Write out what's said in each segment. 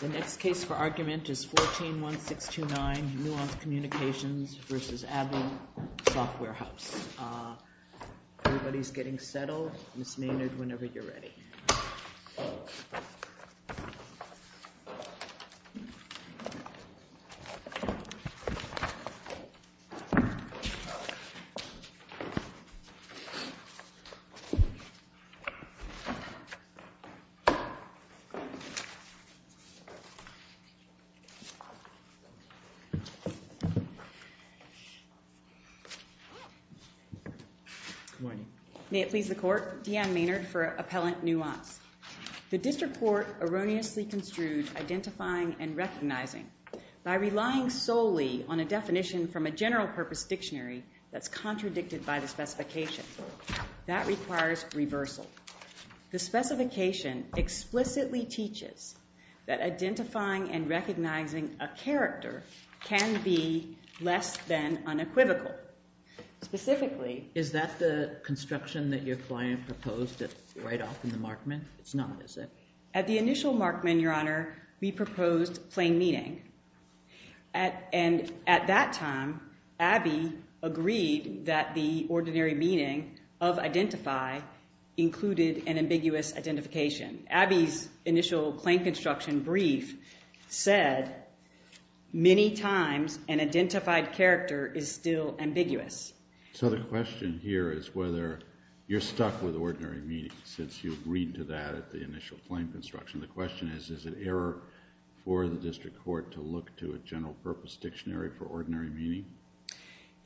The next case for argument is 14-159, Nuance Communications v. ABBYY Software House. Everybody's getting settled. Miss Maynard, whenever you're ready. May it please the Court, Deanne Maynard for Appellant Nuance. The district court erroneously construed identifying and recognizing by relying solely on a definition from a general purpose dictionary that's contradicted by the specification. That requires reversal. The specification explicitly teaches that identifying and recognizing a character can be less than unequivocal. Specifically... Is that the construction that your client proposed right off in the Markman? It's not, is it? At the initial Markman, Your Honor, we proposed plain meaning. And at that time, ABBYY agreed that the ordinary meaning of identify included an ambiguous identification. ABBYY's initial plain construction brief said many times an identified character is still ambiguous. So the question here is whether you're stuck with ordinary meaning since you agreed to that at the initial plain construction. The question is, is it error for the district court to look to a general purpose dictionary for ordinary meaning?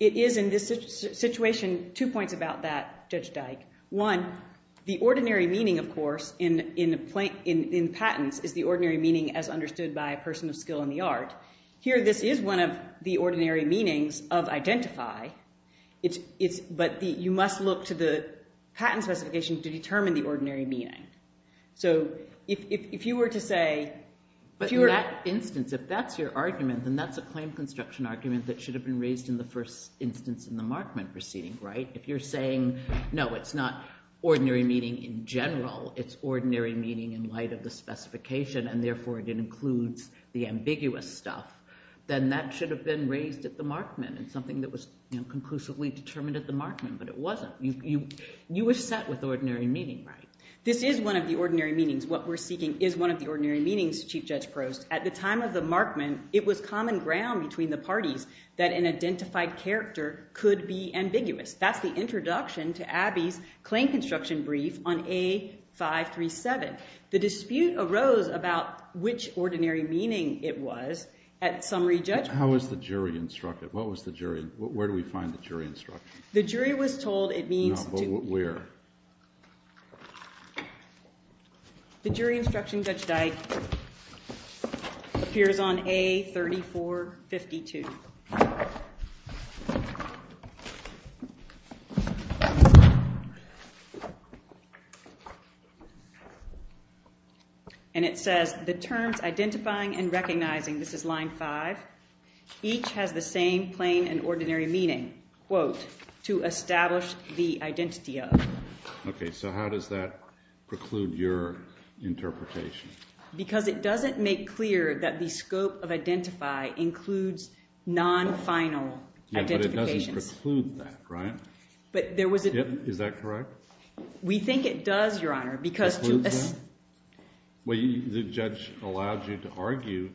It is in this situation. Two points about that, Judge Dyke. One, the ordinary meaning, of course, in patents is the ordinary meaning as understood by a person of skill in the art. Here this is one of the ordinary meanings of identify, but you must look to the patent specifications to determine the ordinary meaning. So if you were to say... In that instance, if that's your argument, and that's a plain construction argument that should have been raised in the first instance in the Markman proceeding, right? If you're saying, no, it's not ordinary meaning in general, it's ordinary meaning in light of the specification and therefore it includes the ambiguous stuff, then that should have been raised at the Markman. It's something that was conclusively determined at the Markman, but it wasn't. You were stuck with ordinary meaning, right? This is one of the ordinary meanings. What we're speaking is one of the ordinary meanings, Chief Judge Gross. At the time of the Markman, it was common ground between the parties that an identified character could be ambiguous. That's the introduction to Abbey's plain construction brief on A-537. The dispute arose about which ordinary meaning it was at summary judgment. How was the jury instructed? Where do we find the jury instruction? The jury was told it means... Where? The jury instruction, Judge Dice, appears on A-3452. And it says, the terms identifying and recognizing, this is line five, each has the same plain and to establish the identity of. Okay, so how does that preclude your interpretation? Because it doesn't make clear that the scope of identify includes non-final identification. Yeah, but it doesn't preclude that, right? Is that correct? We think it does, Your Honor, because... Well, the judge allows you to argue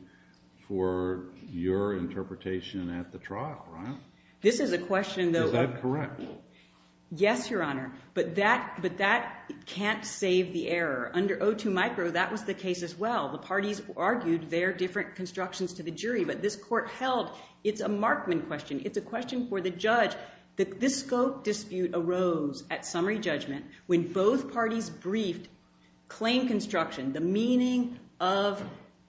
for your interpretation at the trial, right? This is a question that... Is that correct? Yes, Your Honor, but that can't save the error. Under O2 Micro, that was the case as well. The parties argued their different constructions to the jury, but this court held, it's a Markman question. It's a question for the judge. The fiscal dispute arose at summary judgment when both parties briefed claim construction, the meaning of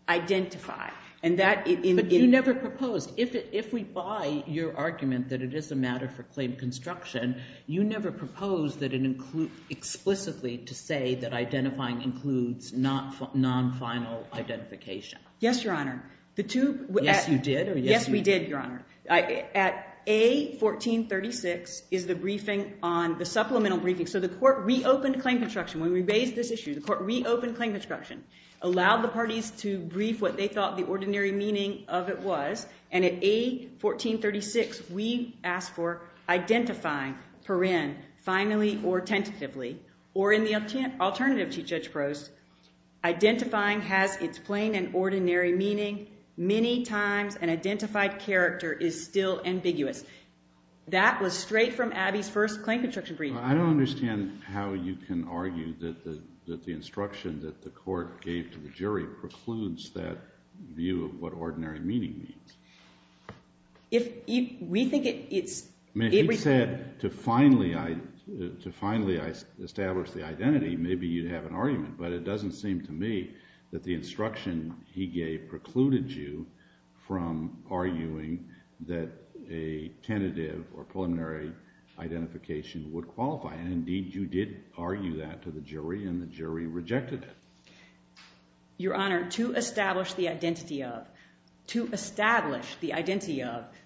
identify. But you never proposed. If we buy your argument that it is a matter for claim construction, you never proposed that it includes explicitly to say that identifying includes non-final identification. Yes, Your Honor. Yes, you did? Yes, we did, Your Honor. At A1436 is the briefing on the supplemental briefing. So the court reopened claim construction. When we raised this issue, the court reopened claim construction, allowed the parties to brief what they thought the ordinary meaning of it was. And at A1436, we asked for identifying for in, finally or tentatively, or in the alternative to Judge Crose, identifying has its plain and ordinary meaning. Many times an identified character is still ambiguous. That was straight from Abby's first claim construction briefing. I don't understand how you can argue that the instruction that the court gave to the jury precludes that view of what ordinary meaning means. To finally establish the identity, maybe you'd have an argument. But it doesn't seem to me that the instruction he gave precluded you from arguing that a tentative or preliminary identification would qualify. And indeed, you did argue that to the jury, and the jury rejected it. Your Honor, to establish the identity of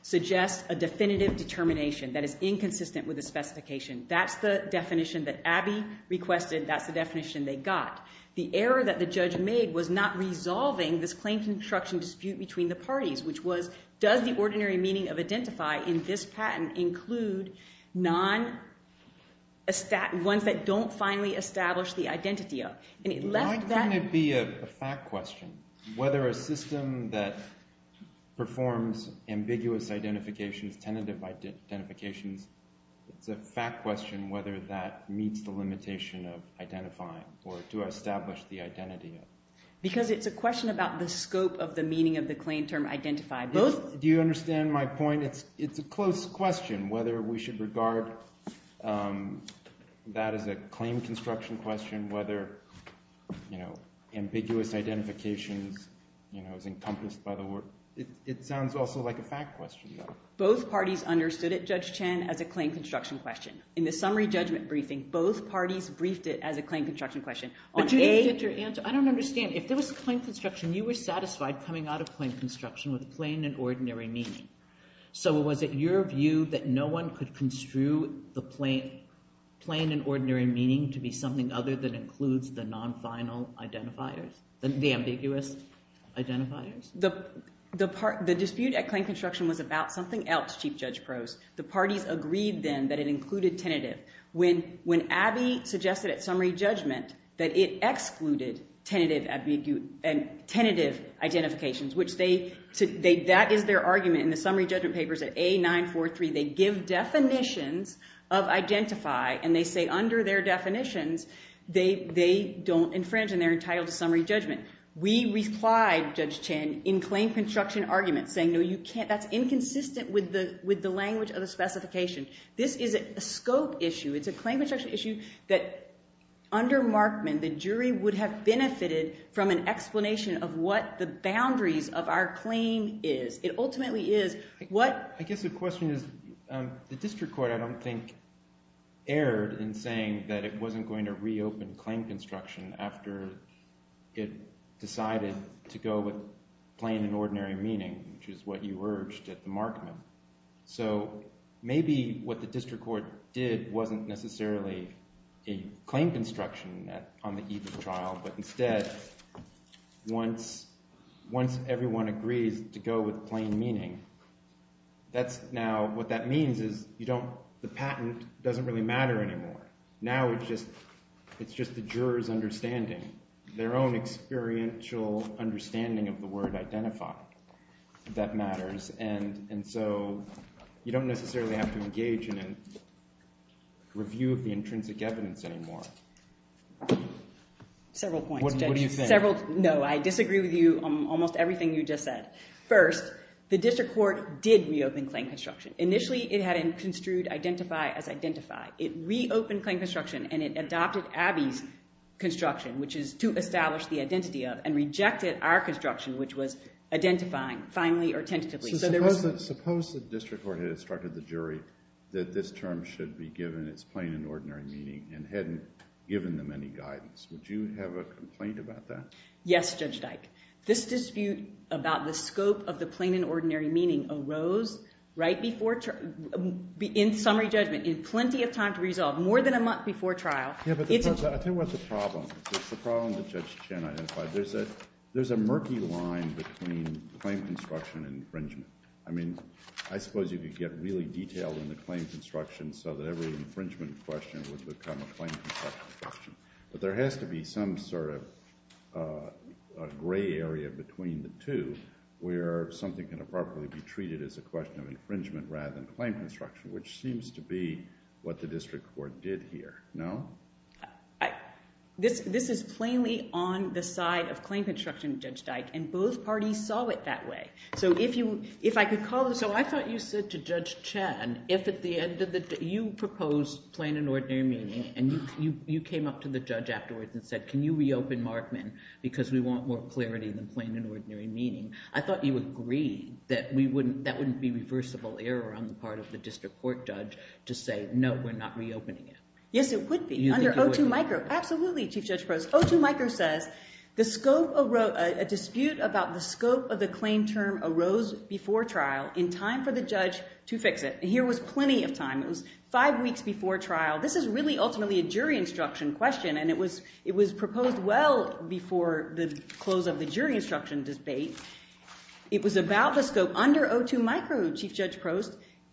suggests a definitive determination that is inconsistent with the specification. That's the definition that Abby requested. That's the definition they got. The error that the judge made was not resolving this claim construction dispute between the parties, which was, does the ordinary meaning of identify in this patent include one that don't finally establish the identity of? Why couldn't it be a fact question? Whether a system that performs ambiguous identification, tentative identification, it's a fact question whether that meets the limitation of identifying, or to establish the identity of. Because it's a question about the claim construction question, whether ambiguous identification is encompassed by the word. It sounds also like a fact question. Both parties understood it, Judge Chan, as a claim construction question. In the summary judgment briefing, both parties briefed it as a claim construction question. I don't understand. If there was a claim construction, you were satisfied coming out of claim construction with a plain and ordinary meaning. So was it your view that no one could construe the plain and ordinary meaning to be something other than includes the non-final identifiers, the ambiguous identifiers? The dispute at claim construction was about something else, Chief Judge Crowes. The parties agreed then that it included tentative. When Abby suggested at summary judgment that it excluded tentative identifications, which that is their argument in the summary judgment papers at A943, they give definitions of identify, and they say under their definitions, they don't infringe and they're entitled to summary judgment. We replied, Judge Chan, in claim construction argument, saying no, you can't. That's inconsistent with the language of the specification. This is a scope issue. It's a claim construction issue that under Markman, the jury would have benefited from an explanation of what the boundaries of our claim is. It ultimately is what... I guess the question is, the district court, I don't think, erred in saying that it wasn't going to reopen claim construction after it decided to go with plain and ordinary meaning, which is what you urged at the Markman. So maybe what the district court did wasn't necessarily a claim construction on the Evers trial, but instead, once everyone agreed to go with plain meaning, now what that means is the patent doesn't really matter anymore. Now it's just the jurors' understanding, their own experiential understanding of the word identify that matters, and so you don't necessarily have to engage in a review of the intrinsic evidence anymore. What do you think? No, I disagree with you on almost everything you just said. First, the district court did reopen claim construction. Initially it had construed identify as identified. It reopened claim construction and it adopted Abby's construction, which is to establish the identity of, and rejected our construction, which was identifying, finally or tentatively. So suppose the district court had instructed the jury that this term should be given its plain and ordinary meaning and hadn't given them any guidance. Would you have a complaint about that? Yes, Judge Dyke. This dispute about the scope of the plain and ordinary meaning arose right before, in summary judgment, in plenty of time to resolve, more than a month before trial. Yeah, but I think what's the problem? The problem with Judge Chen identified, there's a murky line between claim construction and infringement. I mean, I suppose if you get really detailed in the claim construction so that every infringement question would become a claim construction question. But there has to be some sort of gray area between the two where something can properly be treated as a question of infringement rather than claim construction, which seems to be what the district court did here. No? This is plainly on the side of claim construction, Judge Dyke, and both parties saw it that way. So if I could call this, so I thought you said to Judge Chen, if at the end of the day you proposed plain and ordinary meaning and you came up to the judge afterwards and said, can you reopen Markman because we want more clarity than plain and ordinary meaning, I thought you would agree that that wouldn't be reversible error on the part of the district court judge to say, no, we're not reopening it. Yes, it would be. Under O2micro. Absolutely, Chief Judge Crouse. O2micro says, a dispute about the scope of a claim term arose before trial in time for the judge to fix it. Here was plenty of time. It was five weeks before trial. This is really ultimately a jury instruction question, and it was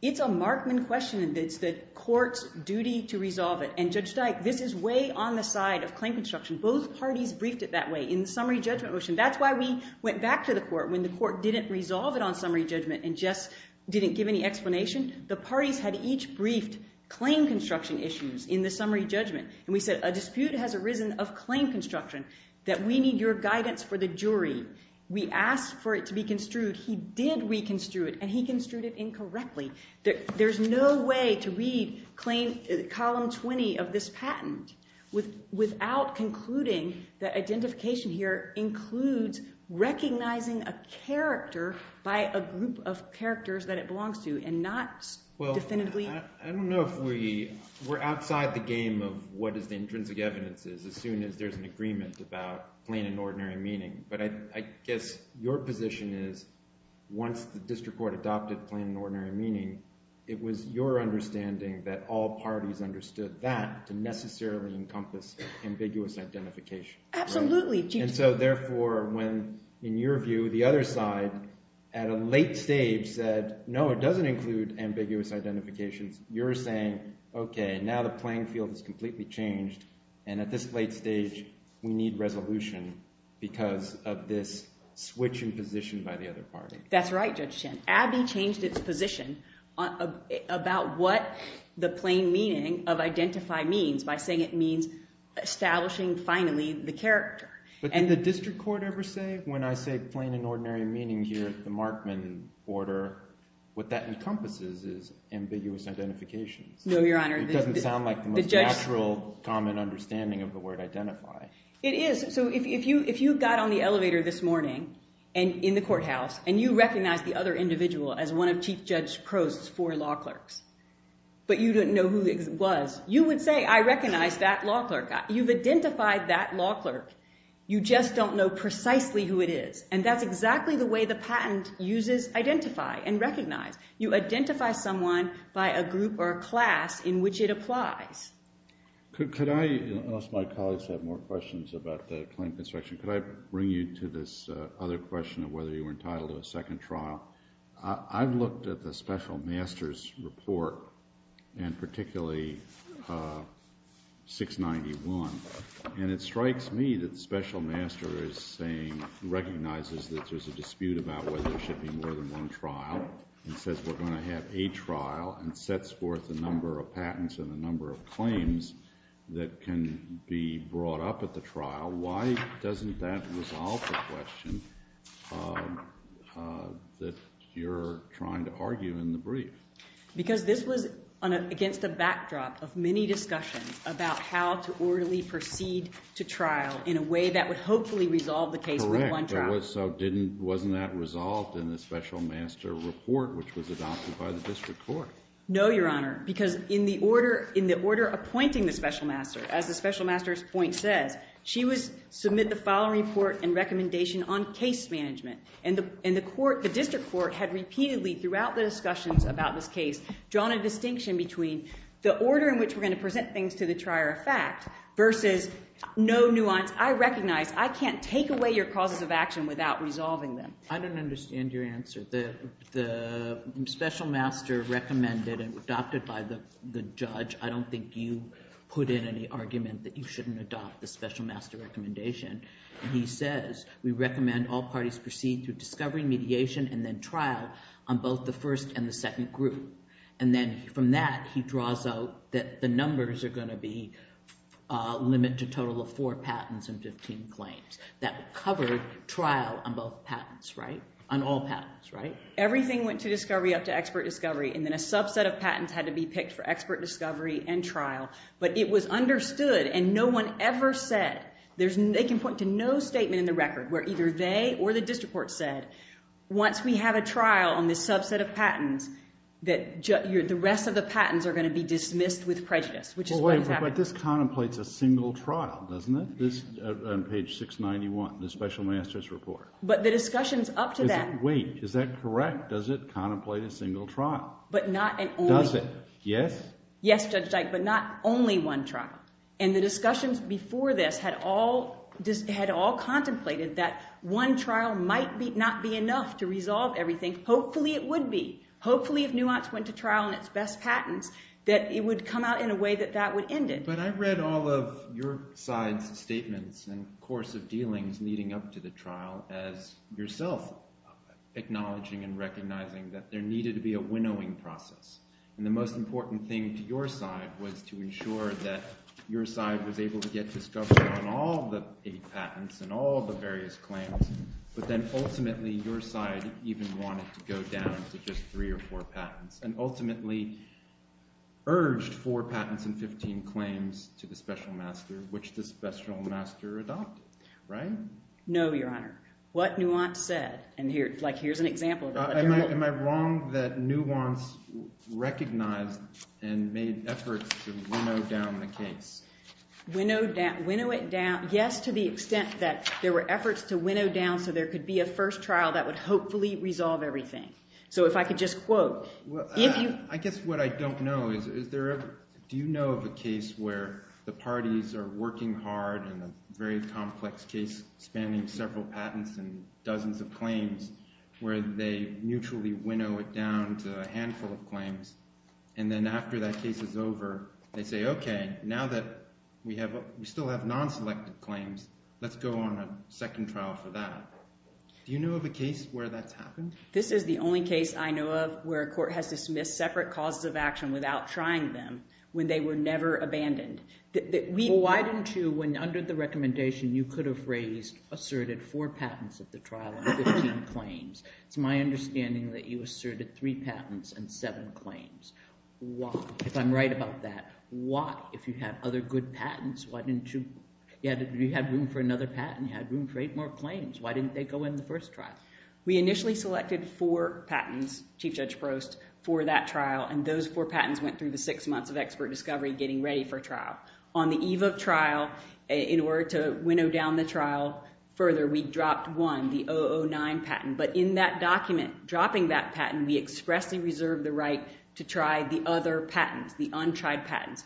it's a Markman question, and it's the court's duty to resolve it. And Judge Dyke, this is way on the side of claim construction. Both parties briefed it that way in the summary judgment motion. That's why we went back to the court when the court didn't resolve it on summary judgment and just didn't give any explanation. The parties had each briefed claim construction issues in the summary judgment. And we said, a dispute has arisen of claim construction that we need your guidance for the jury. We asked for it to be construed. He did reconstrue it, and he construed it incorrectly. There's no way to read column 20 of this patent without concluding that identification here includes recognizing a character by a group of characters that it belongs to and not definitively... I don't know if we... We're outside the game of what an intrinsic evidence is as soon as there's an agreement about plain and ordinary meaning. But I guess your position is once the district court adopted plain and ordinary meaning, it was your understanding that all parties understood that to necessarily encompass ambiguous identification. Absolutely. And so therefore, when in your view, the other side at a late stage said, no, it doesn't include ambiguous identification, you're saying, okay, now the playing field has completely changed. And at this late stage, we need resolution because of this switch in position by the other party. That's right, Judge Chin. Abbey changed its position about what the plain meaning of identify means by saying it means establishing finally the character. But did the district court ever say when I say plain and ordinary meaning here at the Markman order, what that encompasses is ambiguous identification? No, Your Honor. It doesn't sound like the most natural common understanding of the word identify. It is. So if you got on the elevator this morning in the courthouse and you recognized the other I recognize that law clerk. You've identified that law clerk. You just don't know precisely who it is. And that's exactly the way the patent uses identify and recognize. You identify someone by a group or a class in which it applies. Could I ask my colleagues to have more questions about the plaintiff's section? Could I bring you to this other question of whether you were entitled to a second trial? I've looked at the special master's report and particularly 691 and it strikes me that special master is saying recognizes that there's a dispute about whether there should be more than one trial and says we're going to have a trial and sets forth the number of patents and the number of claims that can be brought up about the trial. Why doesn't that resolve the question that you're trying to argue in the brief? Because this was against the backdrop of many discussions about how to orderly proceed to trial in a way that would hopefully resolve the case with one trial. Correct. So wasn't that resolved in the special master report which was adopted by the district court? No, Your Honor, because in the order appointing the special master, as the special master's point said, she would submit the following report and recommendation on case management. And the district court had repeatedly, throughout the discussions about this case, drawn a distinction between the order in which we're going to present things to the trier of facts versus no nuance, I recognize, I can't take away your causes of action without resolving them. I don't understand your answer. The special master recommended and adopted by the judge, I don't think you put in any argument that you shouldn't adopt the special master recommendation. He says we recommend all parties proceed through discovery and mediation and then trial on both the first and the second group. And then from that he draws out that the numbers are going to be limited to a total of four patents and 15 claims. That covered trial on both patents, right? On all patents, right? Everything went to discovery up to expert discovery and then a subset of patents had to be picked for expert discovery and trial. But it was understood and no one ever said they can point to no statement in the record where either they or the district court said, once we have a trial on this subset of patents, that the rest of the patents are going to be dismissed with prejudice. Wait, but this contemplates a single trial, doesn't it? On page 691 in the special master's report. But the discussion's up to that. Wait, is that correct? Does it contemplate a single trial? Does it? Yes? Yes, Judge Sykes, but not only one trial. And the discussions before this had all contemplated that one trial might not be enough to resolve everything. Hopefully it would be. Hopefully if Nuance went to trial on its best patents, that it would come out in a way that that would end it. But I've read all of your side's statements and course of dealings leading up to the trial as yourself acknowledging and recognizing that there needed to be a winnowing process. And the most important thing to your side was to ensure that your side was able to get discovered on all the patents and all the various claims. But then ultimately, your side even wanted to go down to just three or four patents and ultimately urged four patents and 15 claims to the special master, which the special master adopted, right? No, Your Honor. What Nuance said. Am I wrong that Nuance recognized and made efforts to winnow down the case? Winnow it down, yes, to the extent that there were efforts to winnow down so there could be a first trial that would hopefully resolve everything. So if I could just quote. I guess what I don't know is, do you know of a case where the parties are working hard in a very complex case spanning several patents and dozens of claims, where they mutually winnow it down to a handful of claims? And then after that case is over, they say, okay, now that we still have non-selected claims, let's go on a second trial for that. Do you know of a case where that's happened? This is the only case I know of where a court has to submit separate causes of action without trying them when they were never abandoned. Well, why don't you, under the recommendation, you could have raised, asserted four patents at the trial and 15 claims. It's my understanding that you asserted three patents and seven claims. Why? If I'm right about that, why? If you had other good patents, why didn't you, if you had room for another patent, you had room for eight more claims. Why didn't they go in the first trial? We initially selected four patents, Chief Judge Frost, for that trial, and those four patents went through the six months of expert discovery, getting ready for trial. On the eve of trial, in order to winnow down the trial further, we dropped one, the 009 patent. But in that document, dropping that patent, we expressly reserved the right to try the other patents, the untried patents.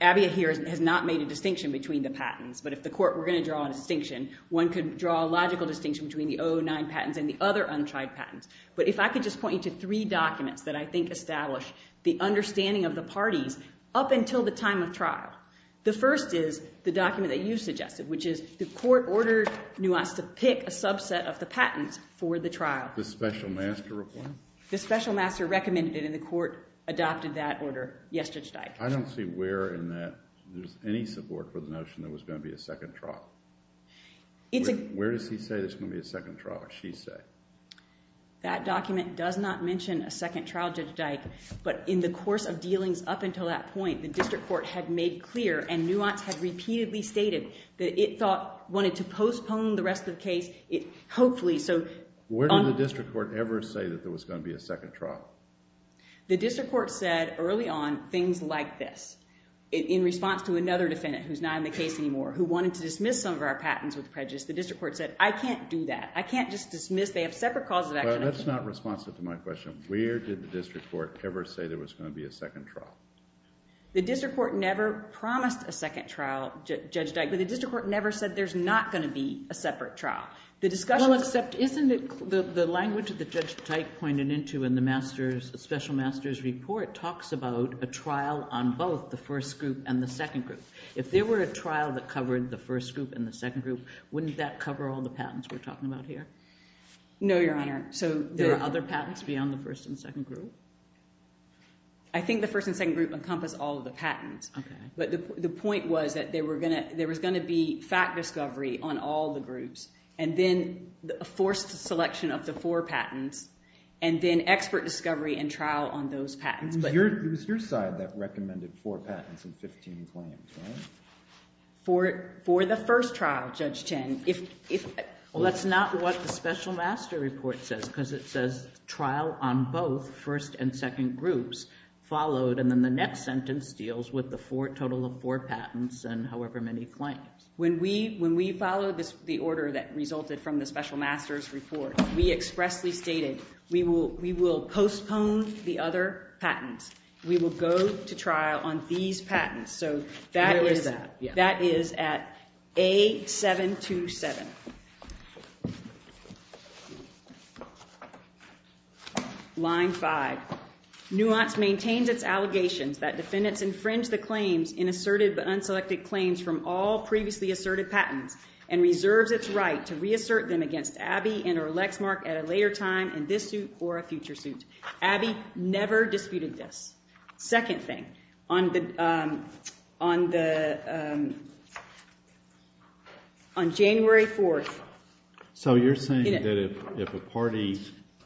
Abby here has not made a distinction between the patents, but if the court were going to draw a distinction, one could draw a logical distinction between the 009 patents and the other untried patents. But if I could just point you to three documents that I think establish the understanding of the parties, up until the time of trial. The first is the document that you suggested, which is the court ordered Nuance to pick a subset of the patents for the trial. The special master report? The special master recommended it, and the court adopted that order yesterday. I don't see where in that, any support for the notion there was going to be a second trial. Where does he say there's going to be a second trial, or she say? That document does not mention a second trial, Judge Dyke, but in the course of dealings up until that point, the district court had made clear, and Nuance had repeatedly stated, that it thought, wanted to postpone the rest of the case, hopefully. Where did the district court ever say that there was going to be a second trial? The district court said, early on, things like this. In response to another defendant, who's not in the case anymore, who wanted to dismiss some of our patents with prejudice, the district court said, I can't do that. I can't just dismiss, they have separate causes. That's not responsive to my question. Where did the district court ever say there was going to be a second trial? The district court never promised a second trial, Judge Dyke, but the district court never said there's not going to be a separate trial. Well, except, isn't the language that Judge Dyke pointed into in the master's, special master's report talks about a trial on both the first group and the second group. If there were a trial that covered the first group and the second group, wouldn't that cover all the patents we're talking about here? No, Your Honor. So there are other patents beyond the first and second group? I think the first and second group encompass all of the patents. But the point was that there was going to be fact discovery on all the groups, and then forced selection of the four patents, and then expert discovery and trial on those patents. But it was your side that recommended four patents and 15 claims, right? For the first trial, Judge Chen. Well, that's not what the special master report says, because it says trial on both first and second groups followed, and then the next sentence deals with the total of four patents and however many claims. When we followed the order that resulted from the special master's report, we expressly stated we will postpone the other patents. We will go to trial on these patents. Where is that? That is at A727. Line five. Nuance maintained its allegations that defendants infringe the claims in assertive but unselected claims from all previously assertive patents and reserves its right to reassert them against Abby and her elect mark at a later time in this suit or a future suit. Abby never disputed this. Second thing, on January 4th. So you're saying that if a party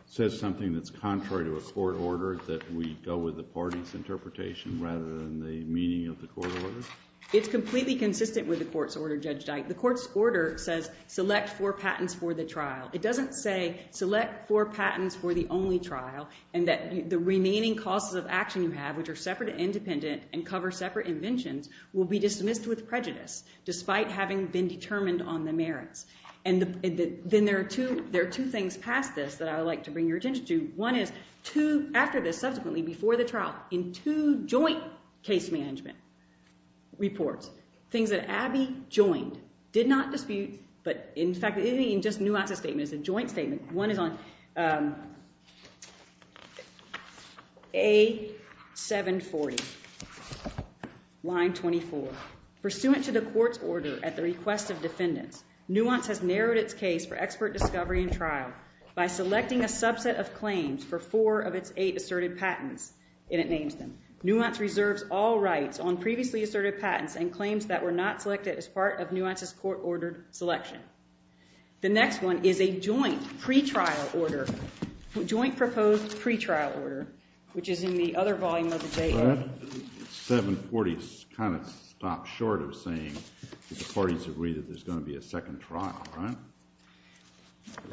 says something that's contrary to a court order, that we go with the party's interpretation rather than the meaning of the court order? It's completely consistent with the court's order, Judge Dyke. The court's order says select four patents for the trial. It doesn't say select four patents for the only trial and that the remaining causes of action you have, which are separate and independent and cover separate inventions, will be dismissed with prejudice despite having been determined on the merits. Then there are two things past this that I would like to bring your attention to. One is after this, subsequently, before the trial, in two joint case management reports, things that Abby joined did not dispute but, in fact, it isn't even just Nuance's statement. It's a joint statement. One is on A740, line 24. Pursuant to the court's order at the request of defendants, Nuance has narrowed its case for expert discovery and trial by selecting a subset of claims for four of its eight assertive patents, and it names them. and claims that were not selected as part of Nuance's court-ordered selection. The next one is a joint pre-trial order, joint proposed pre-trial order, which is in the other volume of the data. A740 kind of stops short of saying that the parties agree that there's going to be a second trial, right?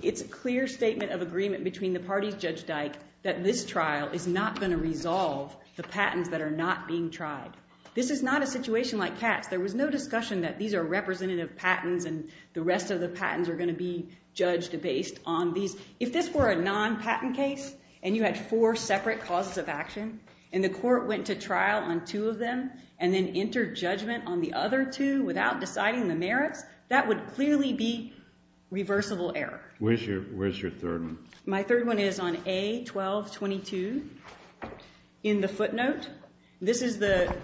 It's a clear statement of agreement between the parties, Judge Dyke, that this trial is not going to resolve the patents that are not being tried. This is not a situation like Pat's. There was no discussion that these are representative patents and the rest of the patents are going to be judged based on these. If this were a non-patent case and you had four separate causes of action and the court went to trial on two of them and then entered judgment on the other two without deciding the merit, that would clearly be reversible error. Where's your third one? My third one is on A1222 in the footnote. This is the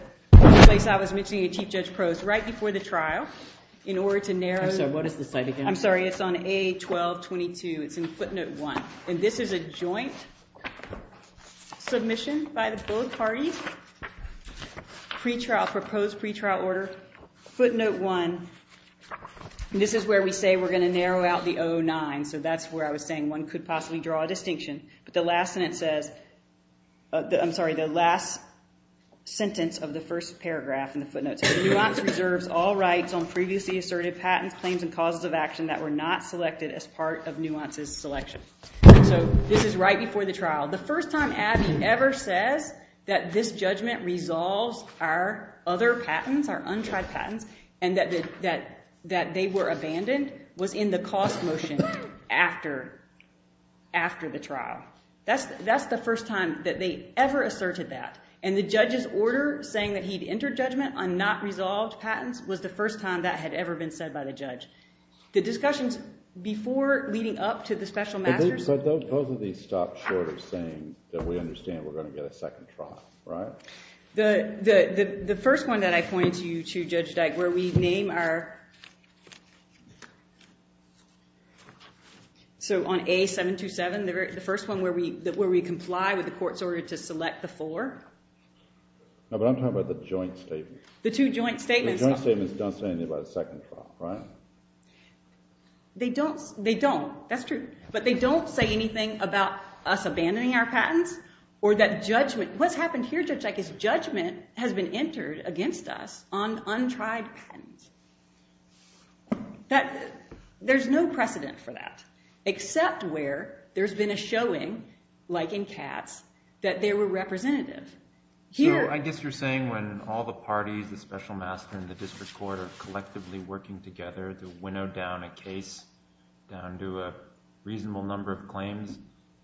place I was missing a Chief Judge's Prose right before the trial in order to narrow. I'm sorry, it's on A1222. It's in footnote one. And this is a joint submission by both parties, pre-trial, proposed pre-trial order, footnote one. This is where we say we're going to narrow out the O09. So that's where I was saying one could possibly draw a distinction. But the last sentence of the first paragraph in the footnote says, Nuance reserves all rights on previously asserted patents, claims, and causes of action that were not selected as part of Nuance's selection. So this is right before the trial. The first time Abby ever said that this judgment resolves our other patents, our untried patents, and that they were abandoned was in the cost motion after the trial. That's the first time that they ever asserted that. And the judge's order saying that he'd entered judgment on not resolved patents was the first time that had ever been said by the judge. The discussions before leading up to the special matters. But both of these stop shortly saying that we understand we're going to get a second trial, right? The first one that I pointed to, too, Judge Deck, where we name our... So on A727, the first one where we comply with the court's order to select the four. No, but I'm talking about the joint statement. The two joint statements. The joint statements don't say anything about a second trial, right? They don't. They don't. That's true. But they don't say anything about us abandoning our patents or that judgment. What happens here, Judge Deck, is judgment has been entered against us on untried patents. There's no precedent for that, except where there's been a showing, like in Katz, that they were representative. So I guess you're saying when all the parties, the special master and the district court, are collectively working together to winnow down a case down to a reasonable number of claims,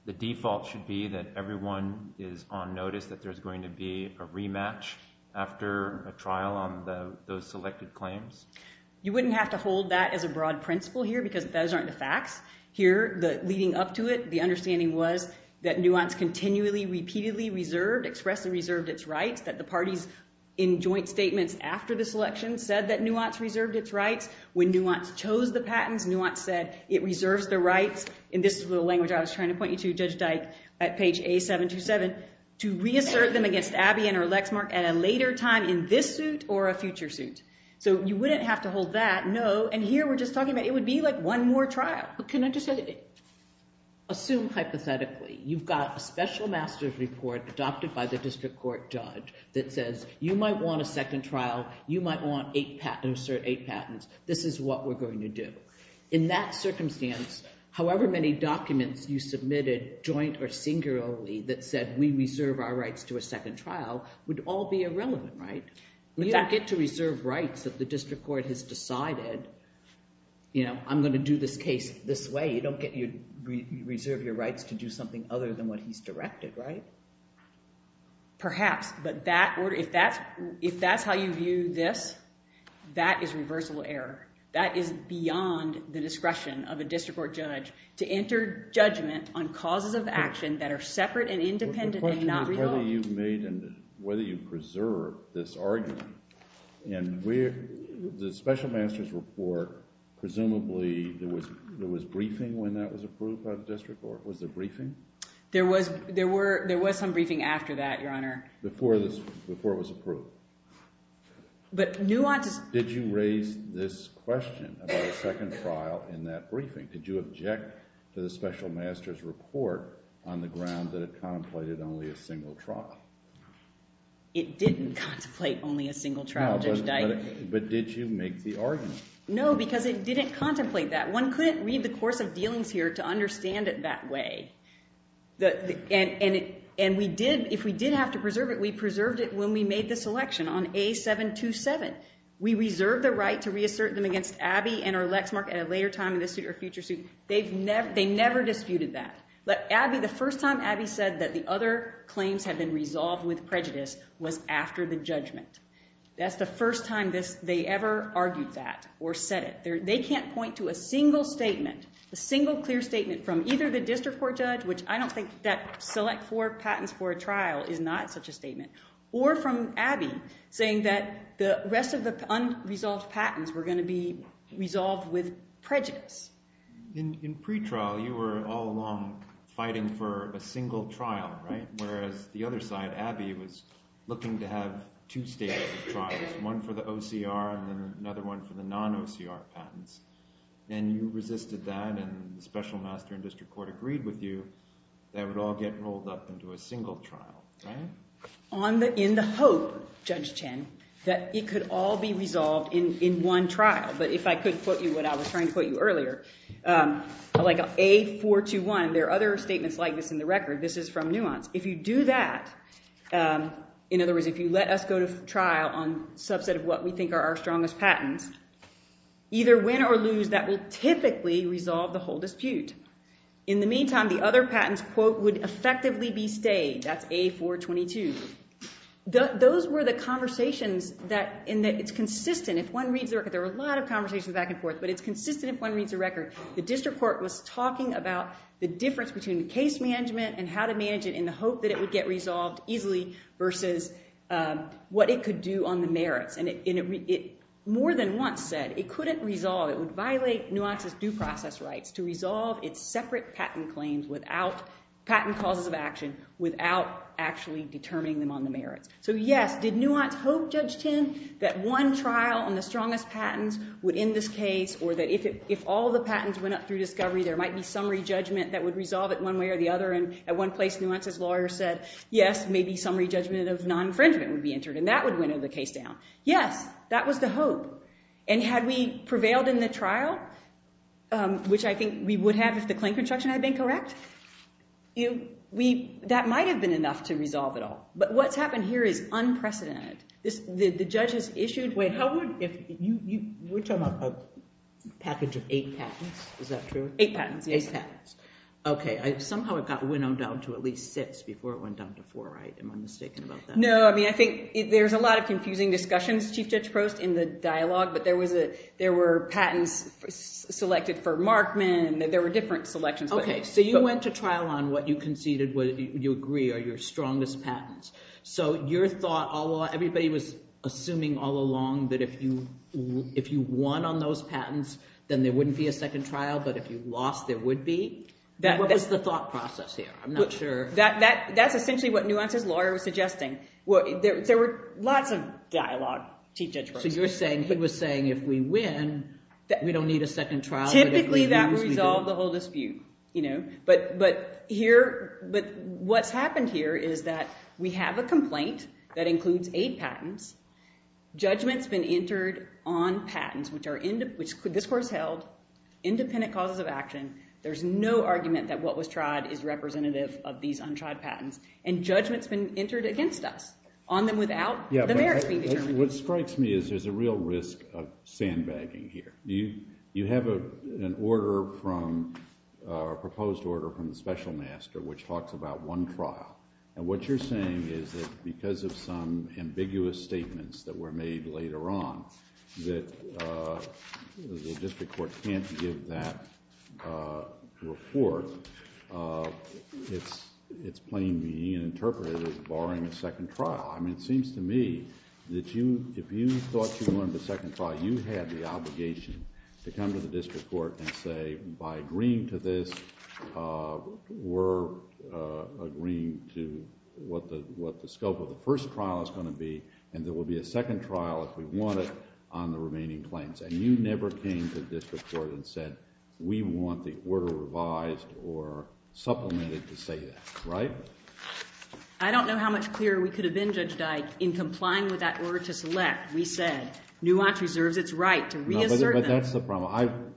the default should be that everyone is on notice that there's going to be a rematch after a trial on those selected claims? You wouldn't have to hold that as a broad principle here, because those aren't the facts. Here, leading up to it, the understanding was that NUANCE continually, repeatedly, reserved, expressed and reserved its rights, that the parties in joint statements after the selection said that NUANCE reserved its rights. When NUANCE chose the patents, NUANCE said it reserved the rights. And this is the language I was trying to point you to, Judge Deck, at page A727, to reassert them against Abby and her Lexmark at a later time in this suit or a future suit. So you wouldn't have to hold that. No, and here we're just talking about it would be like one more trial. Can I just say that? Assume hypothetically you've got a special master's report adopted by the district court judge that says you might want a second trial, you might want eight patents, this is what we're going to do. In that circumstance, however many documents you submitted joint or singularly that said we reserve our rights to a second trial would all be irrelevant, right? You don't get to reserve rights if the district court has decided, you know, I'm going to do this case this way. You don't get to reserve your rights to do something other than what he's directed, right? Perhaps, but if that's how you view this, that is reversible error. That is beyond the discretion of a district court judge to enter judgment on causes of action that are separate and independent and not relevant. The question is whether you've made and whether you've preserved this argument. In the special master's report, presumably there was briefing when that was approved by the district court. Was there briefing? There was some briefing after that, Your Honor. Before it was approved. Did you raise this question about a second trial in that briefing? Did you object to the special master's report on the ground that it contemplated only a single trial? It didn't contemplate only a single trial. But did you make the argument? No, because it didn't contemplate that. One couldn't read the course of dealings here to understand it that way. And if we did have to preserve it, we preserved it when we made this election on A727. We reserved the right to reassert them against Abby and her Lexmark at a later time in the future suit. They never disputed that. But Abby, the first time Abby said that the other claims had been resolved with prejudice was after the judgment. That's the first time they ever argued that or said it. They can't point to a single statement, a single clear statement from either the district court judge, which I don't think that select four patents for a trial is not such a statement, or from Abby, saying that the rest of the unresolved patents were going to be resolved with prejudice. In pretrial, you were all along fighting for a single trial, right, whereas the other side, Abby, was looking to have two-stage trials, one for the OCR and another one for the non-OCR patents. And you resisted that, and the special master and district court agreed with you that it would all get rolled up into a single trial, right? In the hope, Judge Chen, that it could all be resolved in one trial. But if I could quote you what I was trying to quote you earlier, like A421, there are other statements like this in the record. This is from Nuance. If you do that, in other words, if you let us go to trial on a subset of what we think are our strongest patents, either win or lose, that will typically resolve the whole dispute. In the meantime, the other patents, quote, would effectively be stayed. That's A422. Those were the conversations that, and it's consistent. If one reads the record, there were a lot of conversations back and forth, but it's consistent if one reads the record. The district court was talking about the difference between the case management and how to manage it in the hope that it would get resolved easily versus what it could do on the merits. More than once said it couldn't resolve. It would violate Nuance's due process rights to resolve its separate patent claims without patent causes of action, without actually determining them on the merits. So yes, did Nuance hope, Judge Chen, that one trial on the strongest patents would end this case, or that if all the patents went up through discovery, there might be summary judgment that would resolve it one way or the other? And at one place, Nuance's lawyer said, yes, maybe summary judgment of none for instance would be entered. And that would winnow the case down. Yes, that was the hope. And had we prevailed in the trial, which I think we would have if the claim construction had been correct, that might have been enough to resolve it all. But what's happened here is unprecedented. The judge has issued- Wait, you were talking about a package of eight patents. Is that true? Eight patents, yes. Eight patents. Okay. Somehow it got winnowed down to at least six before it went down to four, right? Am I mistaken about that? No, I mean, I think there's a lot of confusing discussion, Chief Judge Frost, in the dialogue. But there were patents selected for Markman, and there were different selections. Okay, so you went to trial on what you conceded, what you agree are your strongest patents. So your thought, everybody was assuming all along that if you won on those patents, then there wouldn't be a second trial. But if you lost, there would be? What was the thought process here? I'm not sure. That's essentially what Nuance's lawyer was suggesting. There were lots of dialogue, Chief Judge Frost. So you're saying, he was saying, if we win, we don't need a second trial? Typically, that would resolve the whole dispute. But what happened here is that we have a complaint that includes eight patents. Judgment's been entered on patents, which this course held, independent causes of action. There's no argument that what was tried is representative of these untried patents. And judgment's been entered against us on them without the merits being determined. What strikes me is there's a real risk of sandbagging here. You have an order from, a proposed order from the special master, which talks about one trial. And what you're saying is that because of some ambiguous statements that were made later on, that the district court can't give that report, it's plainly interpreted as barring a second trial. I mean, it seems to me that if you thought you wanted a second trial, you had the obligation to come to the district court and say, by agreeing to this, we're agreeing to what the scope of the first trial is going to be, and there will be a second trial if we want it on the remaining claims. And you never came to the district court and said, we want the order revised or supplemented to say that. Right? I don't know how much clearer we could have been, Judge Dike. In complying with that order to select, we said, NUANCE reserves its right to re-insert them. But that's the problem.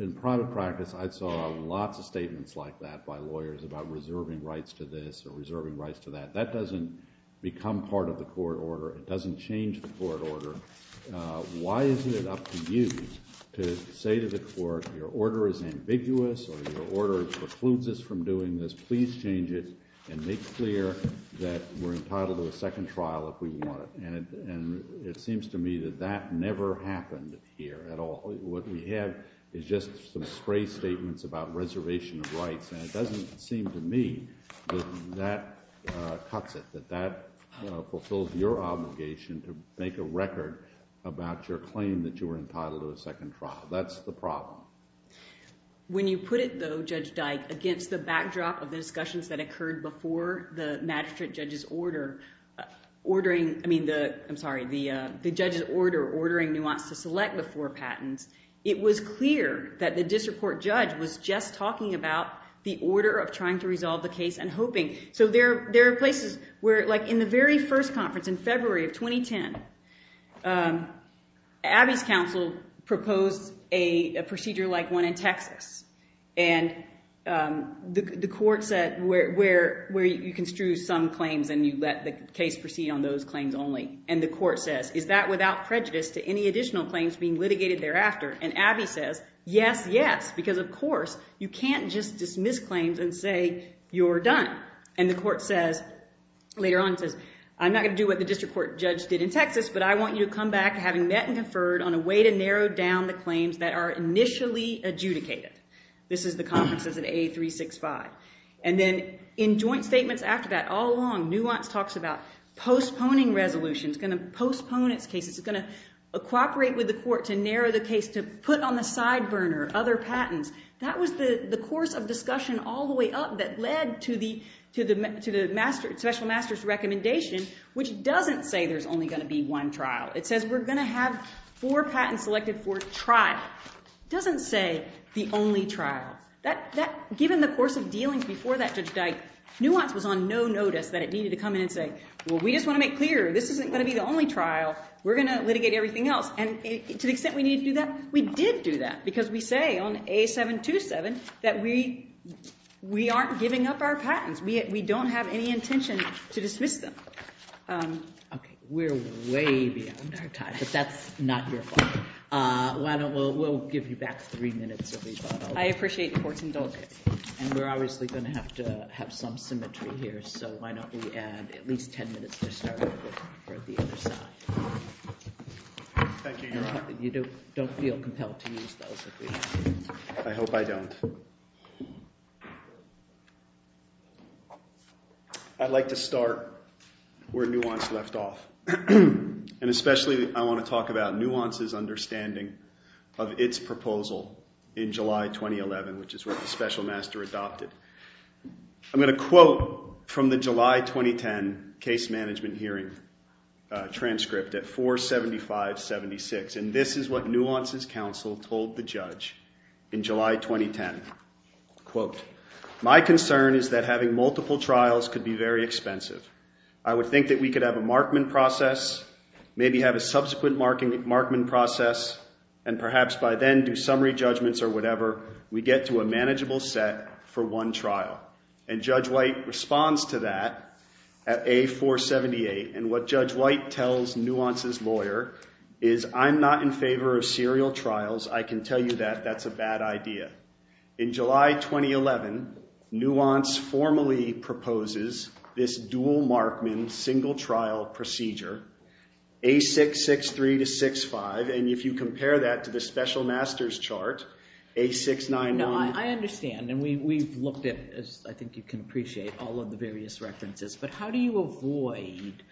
In private practice, I saw lots of statements like that by lawyers about reserving rights to this or reserving rights to that. That doesn't become part of the court order. It doesn't change the court order. Why is it up to you to say to the court, your order is ambiguous or your order precludes us from doing this. Please change it and make clear that we're entitled to a second trial if we want it. And it seems to me that that never happened here at all. What we had is just some stray statements about reservation of rights. And it doesn't seem to me that that cuts it, that that fulfills your obligation to make a record about your claim that you're entitled to a second trial. That's the problem. When you put it, though, Judge Dike, against the backdrop of the discussions that occurred before the magistrate judge's order, ordering, I mean, I'm sorry, the judge's order ordering NUANCE to select the four patents, it was clear that the district court judge was just talking about the order of trying to resolve the case and hoping. So there are places where, like in the very first conference in February of 2010, Abbott's counsel proposed a procedure like one in Texas. And the court said where you construe some claims and you let the case proceed on those claims only. And the court says, is that without prejudice to any additional claims being litigated thereafter? And Abbott says, yes, yes, because, of course, you can't just dismiss claims and say you're done. And the court says, later on, says, I'm not going to do what the district court judge did in Texas, but I want you to come back having met and deferred on a way to narrow down the claims that are initially adjudicated. This is the conferences of AA365. And then in joint statements after that, all along, NUANCE talks about postponing resolutions, going to postpone its case, it's going to cooperate with the court to narrow the case, to put on the side burner other patents. That was the course of discussion all the way up that led to the special master's recommendation, which doesn't say there's only going to be one trial. It says we're going to have four patents selected for trial. It doesn't say the only trial. Given the course of dealing before that judge died, NUANCE was on no notice that it needed to come in and say, well, we just want to make clear this isn't going to be the only trial. We're going to litigate everything else. And to the extent we need to do that, we did do that because we say on A727 that we aren't giving up our patents. We don't have any intention to dismiss them. Okay. We're way behind our time, but that's not your fault. We'll give you back three minutes. I appreciate your questions. And we're obviously going to have to have some symmetry here, so why don't we add at least ten minutes to start with for the other side. Thank you. Don't feel compelled to use both of these. I hope I don't. I'd like to start where NUANCE left off. And especially I want to talk about NUANCE's understanding of its proposal in July 2011, which is what the special master adopted. I'm going to quote from the July 2010 case management hearing transcript at 475.76, and this is what NUANCE's counsel told the judge in July 2010. Quote, my concern is that having multiple trials could be very expensive. I would think that we could have a markman process, maybe have a subsequent markman process, and perhaps by then do summary judgments or whatever. We get to a manageable set for one trial. And Judge White responds to that at A478, and what Judge White tells NUANCE's lawyer is I'm not in favor of serial trials. I can tell you that that's a bad idea. In July 2011, NUANCE formally proposes this dual markman single trial procedure, A663-65, and if you compare that to the special master's chart, A699. Now, I understand, and we've looked at this. I think you can appreciate all of the various references. But how do you avoid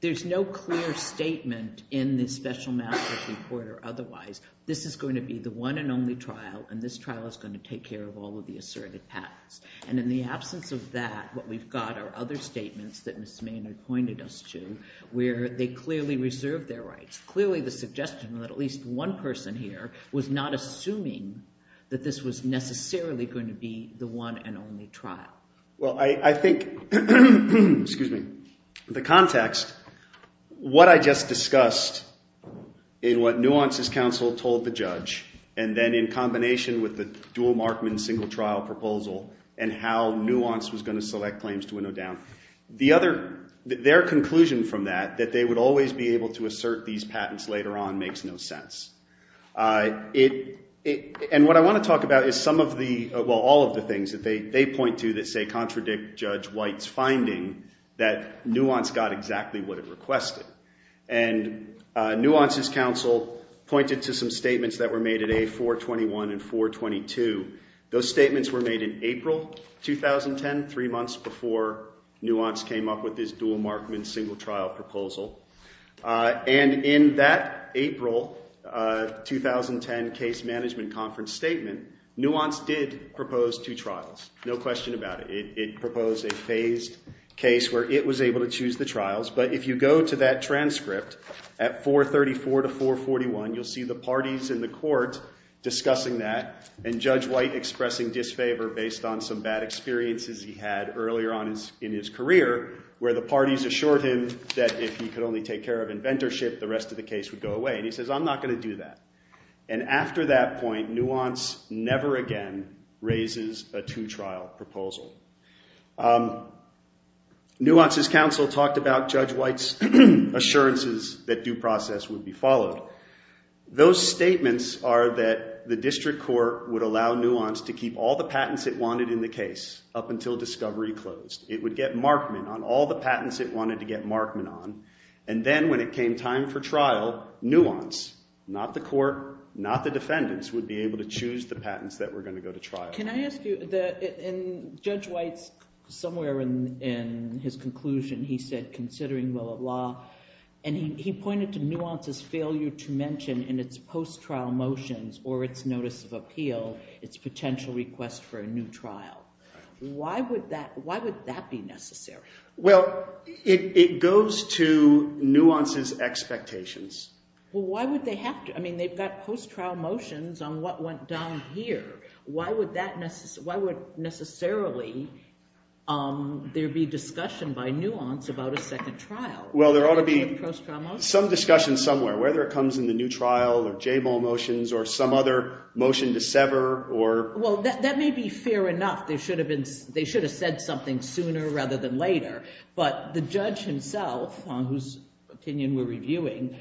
there's no clear statement in the special master's report or otherwise. This is going to be the one and only trial, and this trial is going to take care of all of the asserted patents. And in the absence of that, what we've got are other statements that Mr. Maynard pointed us to where they clearly reserve their rights, clearly suggesting that at least one person here was not assuming that this was necessarily going to be the one and only trial. Well, I think the context, what I just discussed in what NUANCE's counsel told the judge, and then in combination with the dual markman single trial proposal and how NUANCE was going to select claims to window down, their conclusion from that, that they would always be able to assert these patents later on, makes no sense. And what I want to talk about is some of the, well, all of the things that they point to that say contradict Judge White's finding that NUANCE got exactly what it requested. And NUANCE's counsel pointed to some statements that were made at A421 and 422. Those statements were made in April 2010, three months before NUANCE came up with this dual markman single trial proposal. And in that April 2010 case management conference statement, NUANCE did propose two trials, no question about it. It proposed a phased case where it was able to choose the trials, but if you go to that transcript at 434 to 441, you'll see the parties in the court discussing that and Judge White expressing disfavor based on some bad experiences he had earlier on in his career, where the parties assured him that if he could only take care of inventorship, the rest of the case would go away. And he says, I'm not going to do that. And after that point, NUANCE never again raises a two trial proposal. NUANCE's counsel talked about Judge White's assurances that due process would be followed. Those statements are that the district court would allow NUANCE to keep all the patents it wanted in the case up until discovery closed. It would get markman on all the patents it wanted to get markman on. And then when it came time for trial, NUANCE, not the court, not the defendants, would be able to choose the patents that were going to go to trial. Can I ask you, and Judge White, somewhere in his conclusion, he said, considering the law, and he pointed to NUANCE's failure to mention in its post-trial motions or its notice of appeal, its potential request for a new trial. Why would that be necessary? Well, it goes to NUANCE's expectations. Well, why would they have to? I mean, they've got post-trial motions on what went down here. Why would necessarily there be discussion by NUANCE about a second trial? Well, there ought to be some discussion somewhere, whether it comes in the new trial or J-Ball motions or some other motion to sever. Well, that may be fair enough. They should have said something sooner rather than later. But the judge himself, whose opinion we're reviewing,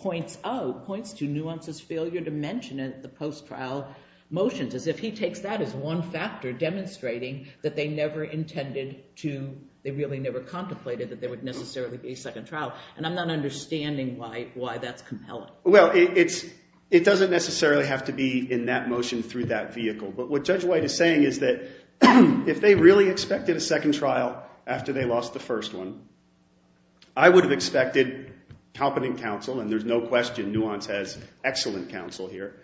points to NUANCE's failure to mention in the post-trial motions, as if he takes that as one factor, demonstrating that they never intended to, they really never contemplated that there would necessarily be a second trial. And I'm not understanding why that's compelling. Well, it doesn't necessarily have to be in that motion through that vehicle. But what Judge White is saying is that if they really expected a second trial after they lost the first one, I would have expected competent counsel, and there's no question NUANCE has excellent counsel here,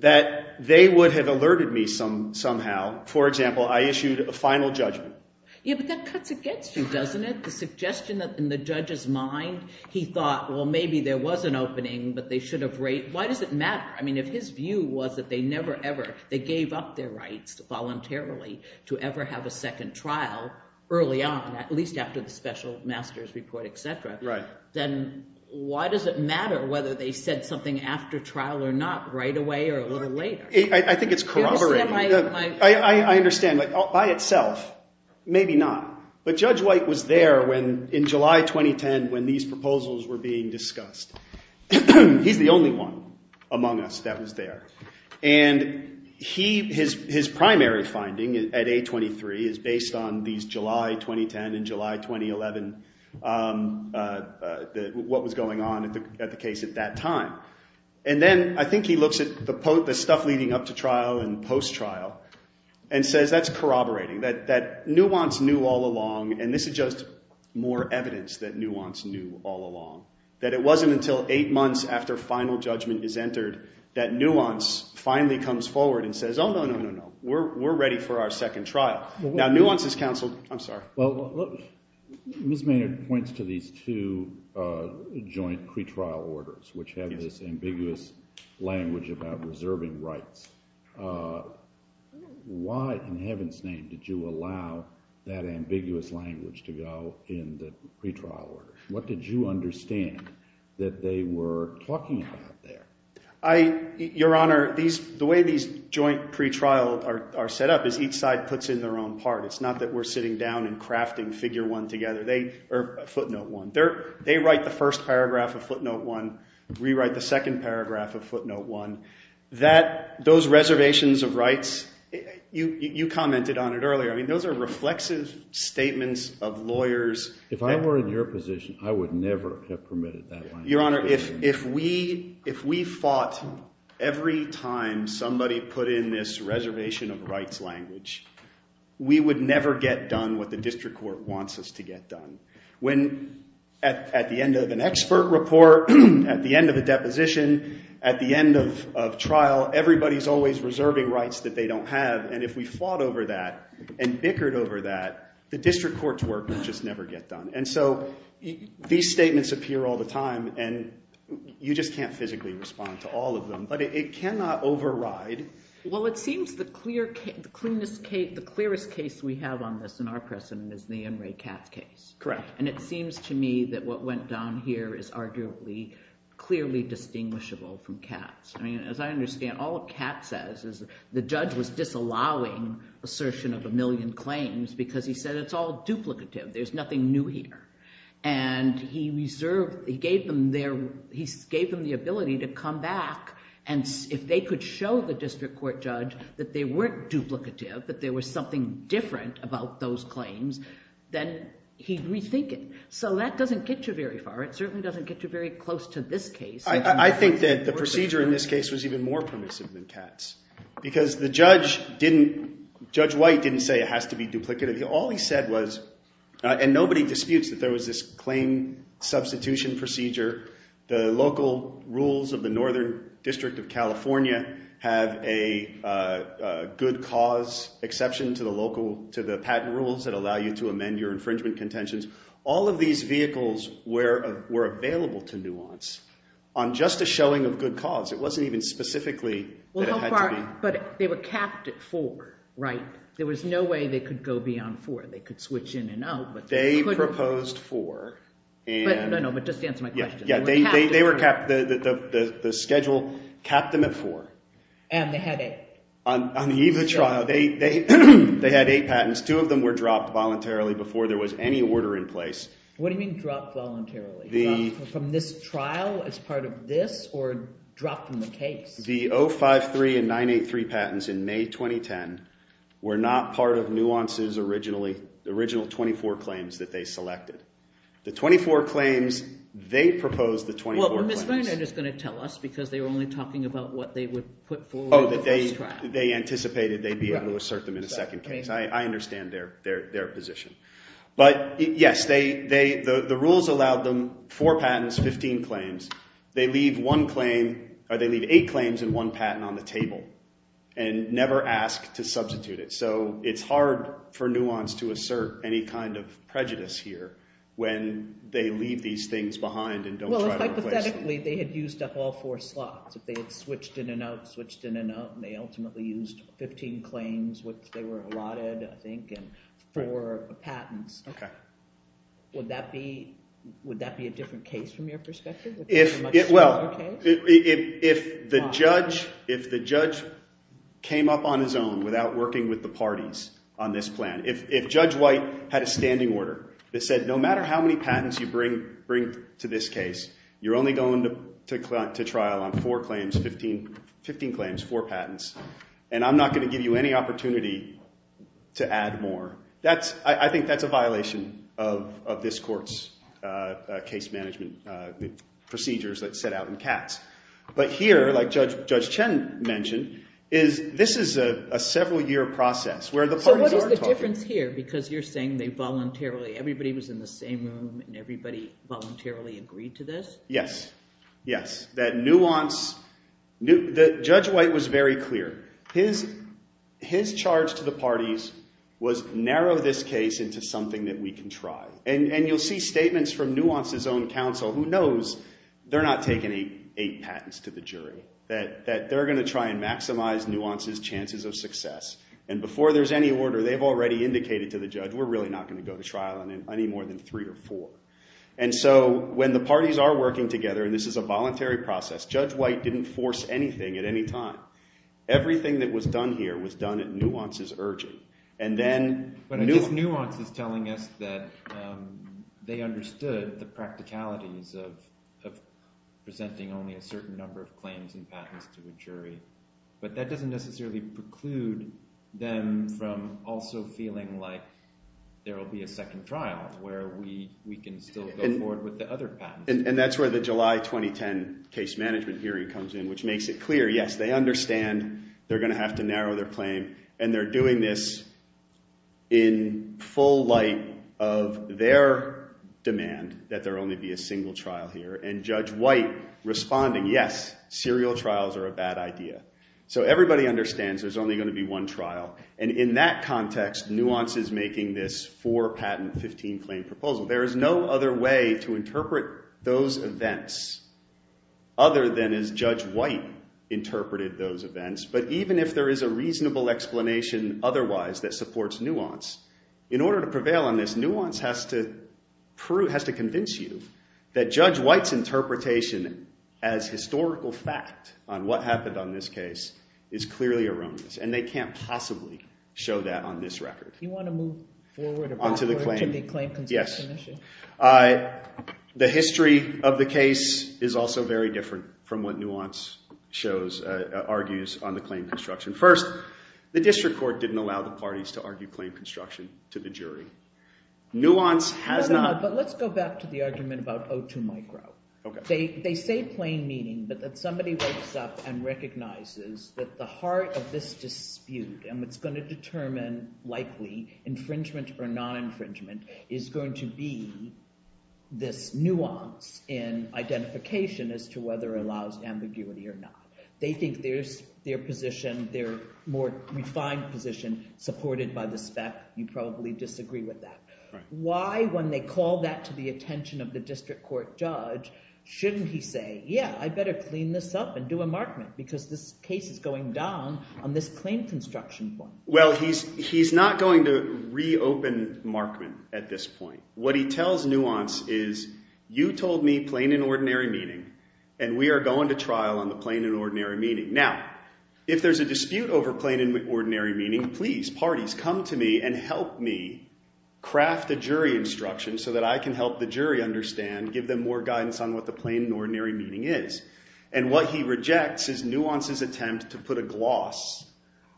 that they would have alerted me somehow. For example, I issued a final judgment. Yeah, but that cuts against you, doesn't it? The suggestion that's in the judge's mind, he thought, well, maybe there was an opening, but they should have waited. Why does it matter? I mean, if his view was that they never ever, they gave up their rights voluntarily to ever have a second trial early on, at least after the special master's report, etc., then why does it matter whether they said something after trial or not, right away or a little later? I think it's corroborating. I understand, but by itself, maybe not. But Judge White was there in July 2010 when these proposals were being discussed. He's the only one among us that was there. And his primary finding at A23 is based on the July 2010 and July 2011, what was going on at the case at that time. And then I think he looks at the stuff leading up to trial and post-trial and says that's corroborating, that NUANCE knew all along, and this is just more evidence that NUANCE knew all along, that it wasn't until eight months after final judgment is entered that NUANCE finally comes forward and says, oh, no, no, no, no, we're ready for our second trial. Now, NUANCE has counseled, I'm sorry. Ms. Mayer points to these two joint pretrial orders, which have this ambiguous language about preserving rights. Why in heaven's name did you allow that ambiguous language to go in the pretrial orders? What did you understand that they were talking about there? Your Honor, the way these joint pretrial are set up is each side puts in their own part. It's not that we're sitting down and crafting figure one together, footnote one. They write the first paragraph of footnote one, rewrite the second paragraph of footnote one. Those reservations of rights, you commented on it earlier, those are reflexive statements of lawyers. If I were in your position, I would never have permitted that. Your Honor, if we fought every time somebody put in this reservation of rights language, we would never get done what the district court wants us to get done. When at the end of an expert report, at the end of a deposition, at the end of trial, everybody's always reserving rights that they don't have. And if we fought over that and bickered over that, the district court's work would just never get done. And so these statements appear all the time, and you just can't physically respond to all of them. But it cannot override. Well, it seems the clearest case we have on this in our precedent is the Emory Capp case. Correct. And it seems to me that what went down here is arguably clearly distinguishable from Capp's. As I understand, all Capp says is the judge was disallowing assertion of a million claims because he said it's all duplicative, there's nothing new here. And he gave them the ability to come back, and if they could show the district court judge that they weren't duplicative, that there was something different about those claims, then he'd rethink it. So that doesn't get you very far. It certainly doesn't get you very close to this case. I think that the procedure in this case was even more permissive than Capp's. Because Judge White didn't say it has to be duplicative. All he said was, and nobody disputes that there was this claim substitution procedure. The local rules of the Northern District of California can't have a good cause exception to the patent rules that allow you to amend your infringement contentions. All of these vehicles were available to nuance. On just the showing of good cause, it wasn't even specifically that it had to be. But they were capped at four, right? There was no way they could go beyond four. They could switch in and out. They proposed four. No, no, but just to answer my question. The schedule capped them at four. And they had eight. On the eve of the trial, they had eight patents. Two of them were dropped voluntarily before there was any order in place. What do you mean dropped voluntarily? From this trial as part of this, or dropped from the case? The 053 and 983 patents in May 2010 were not part of Nuance's original 24 claims that they selected. The 24 claims they proposed the 24 claims. Well, Ms. Varner is going to tell us because they were only talking about what they would put forward. Oh, that they anticipated they'd be able to assert them in a second case. I understand their position. But yes, the rules allowed them four patents, 15 claims. They leave one claim, or they leave eight claims and one patent on the table and never ask to substitute it. So it's hard for Nuance to assert any kind of prejudice here. When they leave these things behind and don't try to question it. Well, hypothetically, they had used up all four slots. They switched in and out, switched in and out, and they ultimately used 15 claims, which they were eroded, I think, for a patent. Okay. Would that be a different case from your perspective? Well, if the judge came up on his own without working with the parties on this plan, if Judge White had a standing order that said, no matter how many patents you bring to this case, you're only going to trial on four claims, 15 claims, four patents, and I'm not going to give you any opportunity to add more. I think that's a violation of this court's case management procedures that set out in the past. But here, like Judge Chen mentioned, this is a several-year process. So what is the difference here, because you're saying they voluntarily, everybody was in the same room and everybody voluntarily agreed to this? Yes. Yes. That Nuance, Judge White was very clear. His charge to the parties was narrow this case into something that we can trial. And you'll see statements from Nuance's own counsel, who knows they're not taking eight patents to the jury, that they're going to try and maximize Nuance's chances of success. And before there's any order, they've already indicated to the judge, we're really not going to go to trial on any more than three or four. And so when the parties are working together, and this is a voluntary process, Judge White didn't force anything at any time. Everything that was done here was done at Nuance's urging. But I guess Nuance is telling us that they understood the practicalities But that doesn't necessarily preclude them from also feeling like there will be a second trial, where we can still go forward with the other patents. And that's where the July 2010 case management hearing comes in, which makes it clear, yes, they understand they're going to have to narrow their claim, and they're doing this in full light of their demand that there only be a single trial here. And Judge White responding, yes, serial trials are a bad idea. So everybody understands there's only going to be one trial. And in that context, Nuance is making this four-patent, 15-claim proposal. There is no other way to interpret those events, other than as Judge White interpreted those events. But even if there is a reasonable explanation otherwise that supports Nuance, in order to prevail on this, Nuance has to convince you that Judge White's interpretation as historical fact on what happened on this case is clearly erroneous. And they can't possibly show that on this record. Do you want to move forward? Yes. The history of the case is also very different from what Nuance argues on the claim construction. First, the district court didn't allow the parties to argue claim construction to the jury. Nuance has not— But let's go back to the argument about O2 micro. They say plain meaning, but if somebody wakes up and recognizes that the heart of this dispute, and what's going to determine likely infringement or non-infringement, is going to be this nuance in identification as to whether it allows ambiguity or not. They think there's their position, their more refined position, supported by the fact that you probably disagree with that. Why, when they call that to the attention of the district court judge, shouldn't he say, yeah, I better clean this up and do a markment because this case is going down on this claim construction point? Well, he's not going to reopen markment at this point. What he tells Nuance is, you told me plain and ordinary meaning, and we are going to trial on the plain and ordinary meaning. Now, if there's a dispute over plain and ordinary meaning, please, parties, come to me and help me craft a jury instruction so that I can help the jury understand, give them more guidance on what the plain and ordinary meaning is. And what he rejects is Nuance's attempt to put a gloss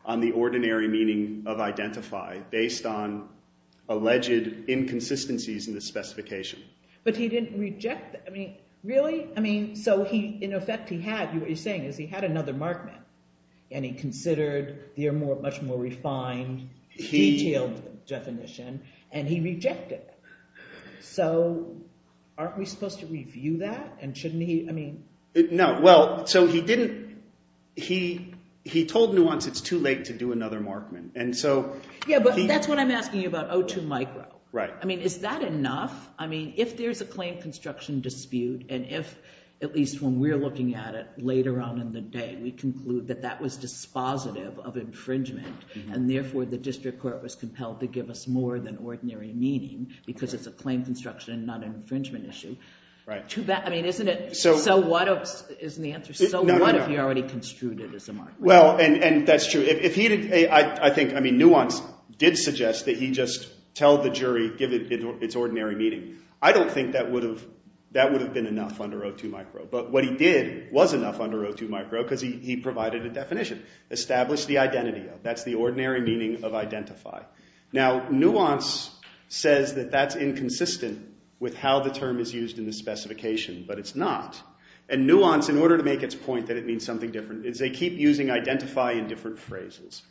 on the ordinary meaning of identify based on alleged inconsistencies in the specification. But he didn't reject—I mean, really? I mean, so he, in effect, he had—what he's saying is he had another markment, and he considered the much more refined, detailed definition, and he rejected it. So, aren't we supposed to review that, and shouldn't he—I mean— No, well, so he didn't—he told Nuance it's too late to do another markment, and so— Yeah, but that's what I'm asking you about O2 micro. Right. I mean, is that enough? I mean, if there's a claim construction dispute, and if, at least when we're looking at it, later on in the day, we conclude that that was dispositive of infringement, and therefore the district court was compelled to give us more than ordinary meaning, because it's a claim construction, not an infringement issue. Right. I mean, isn't it—so what if—isn't the answer—so what if he already construed it as a markment? Well, and that's true. If he didn't—I think, I mean, Nuance did suggest that he just tell the jury, give it its ordinary meaning. I don't think that would have—that would have been enough under O2 micro. But what he did was enough under O2 micro, because he provided a definition. Establish the identity. That's the ordinary meaning of identify. Now, Nuance says that that's inconsistent with how the term is used in the specification, but it's not. And Nuance, in order to make its point that it means something different, is they keep using identify in different phrases.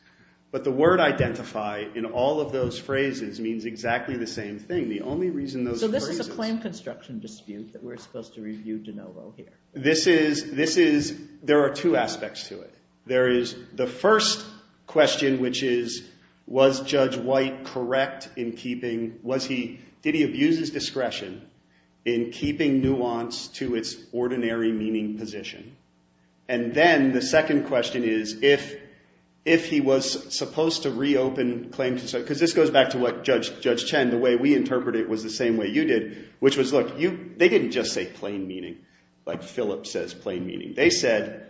But the word identify in all of those phrases means exactly the same thing. The only reason those phrases— Is there a claim construction dispute that we're supposed to review de novo here? This is—this is—there are two aspects to it. There is the first question, which is, was Judge White correct in keeping—was he— did he abuse his discretion in keeping Nuance to its ordinary meaning position? And then the second question is, if he was supposed to reopen claims— because this goes back to what Judge Chen, the way we interpreted it, was the same way you did, which was, look, you—they didn't just say plain meaning, like Phillips says, plain meaning. They said,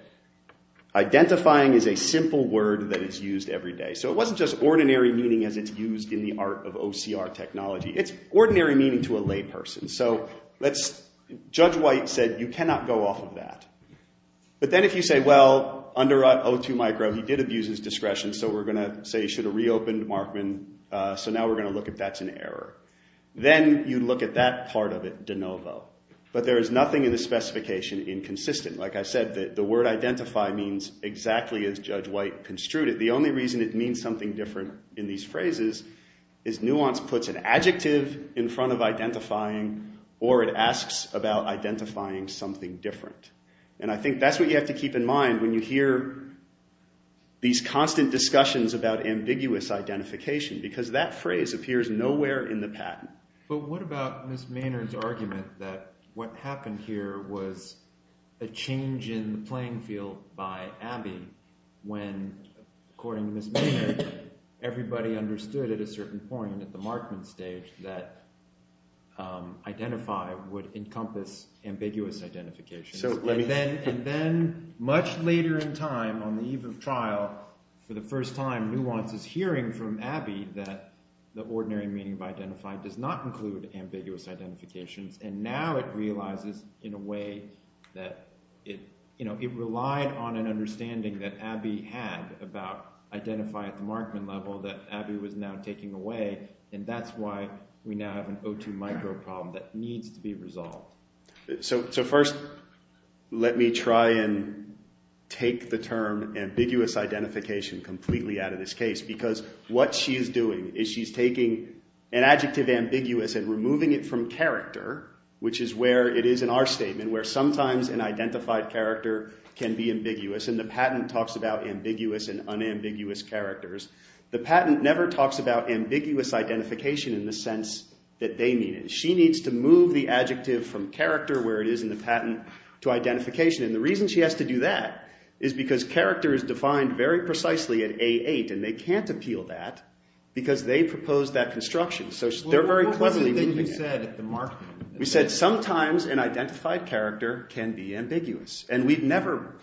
identifying is a simple word that is used every day. So it wasn't just ordinary meaning as it's used in the art of OCR technology. It's ordinary meaning to a layperson. So let's—Judge White said, you cannot go off of that. But then if you say, well, under O2 micro, he did abuse his discretion, so we're going to say he should have reopened Markman, so now we're going to look at that as an error. Then you look at that part of it de novo. But there is nothing in the specification inconsistent. Like I said, the word identify means exactly as Judge White construed it. The only reason it means something different in these phrases is Nuance puts an adjective in front of identifying or it asks about identifying something different. And I think that's what you have to keep in mind when you hear these constant discussions about ambiguous identification because that phrase appears nowhere in the patent. But what about Ms. Maynard's argument that what happened here was a change in the playing field by Abby when, according to Ms. Maynard, everybody understood at a certain point at the Markman stage that identify would encompass ambiguous identification. And then much later in time on the eve of trial, for the first time, Nuance is hearing from Abby that the ordinary meaning of identify does not include ambiguous identification. And now it realizes in a way that it relied on an understanding that Abby had about identify at the Markman level that Abby was now taking away, and that's why we now have an O2 micro problem that needs to be resolved. So first, let me try and take the term ambiguous identification completely out of this case because what she's doing is she's taking an adjective ambiguous and removing it from character which is where it is in our statement where sometimes an identified character can be ambiguous and the patent talks about ambiguous and unambiguous characters. The patent never talks about ambiguous identification in the sense that they need it. She needs to move the adjective from character where it is in the patent to identification. And the reason she has to do that is because character is defined very precisely at A8 and they can't appeal that because they proposed that construction. So they're very cleverly making it. We said sometimes an identified character can be ambiguous and we've never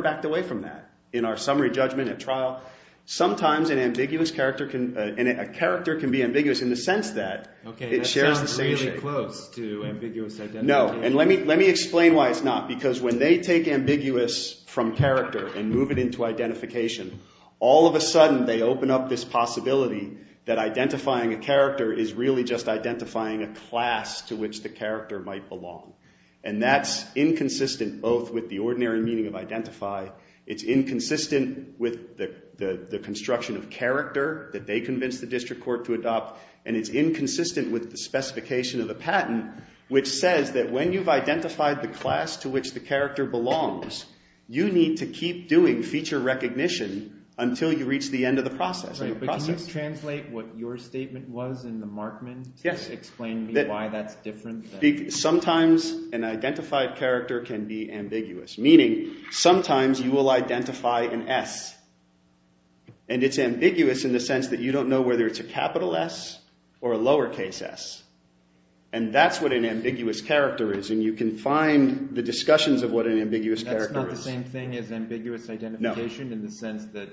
backed away from that in our summary judgment at trial. Sometimes an ambiguous character can be ambiguous in the sense that it shares the same thing. Let me explain why it's not. Because when they take ambiguous from character and move it into identification, all of a sudden they open up this possibility that identifying a character is really just identifying a class to which the character might belong. And that's inconsistent both with the ordinary meaning of identify. It's inconsistent with the construction of character that they convinced the district court to adopt and it's inconsistent with the specification of the patent which says that when you've identified the class to which the character belongs, you need to keep doing feature recognition until you reach the end of the process. Can you translate what your statement was in the Markman? Yes. Explain to me why that's different. Sometimes an identified character can be ambiguous. Meaning sometimes you will identify an S. And it's ambiguous in the sense that you don't know whether it's a capital S or a lower case S. And that's what an ambiguous character is. And you can find the discussions of what an ambiguous character is. That's not the same thing as ambiguous identification in the sense that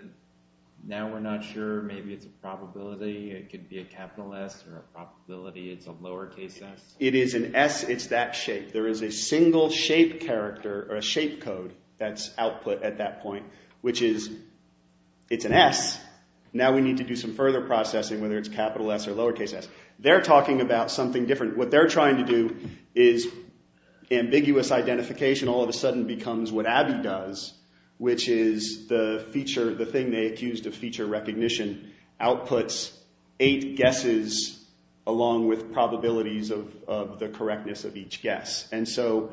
now we're not sure. Maybe it's a probability. It could be a capital S or a probability it's a lower case S. It is an S. It's that shape. There is a single shape character or a shape code that's output at that point which is it's an S. Now we need to do some further processing whether it's capital S or lower case S. They're talking about something different. What they're trying to do is ambiguous identification all of a sudden becomes what Abby does which is the feature, the thing they accused of feature recognition outputs eight guesses along with probabilities of the correctness of each guess. And so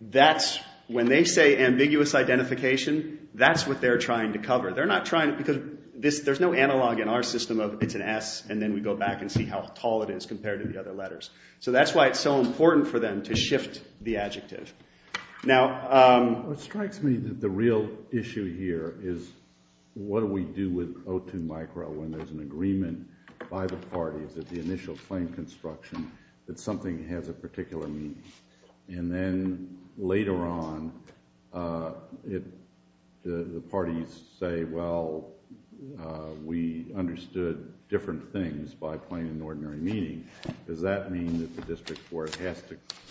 that's when they say ambiguous identification, that's what they're trying to cover. They're not trying to because there's no analog in our system of it's an S and then we go back and see how tall it is compared to the other letters. So that's why it's so important for them to shift the adjective. Now, it strikes me that the real issue here is what do we do with O2 micro when there's an agreement by the parties that the initial claim construction that something has a particular meaning. And then later on if the parties say, well, we understood different things by claiming ordinary meaning, does that mean that the district court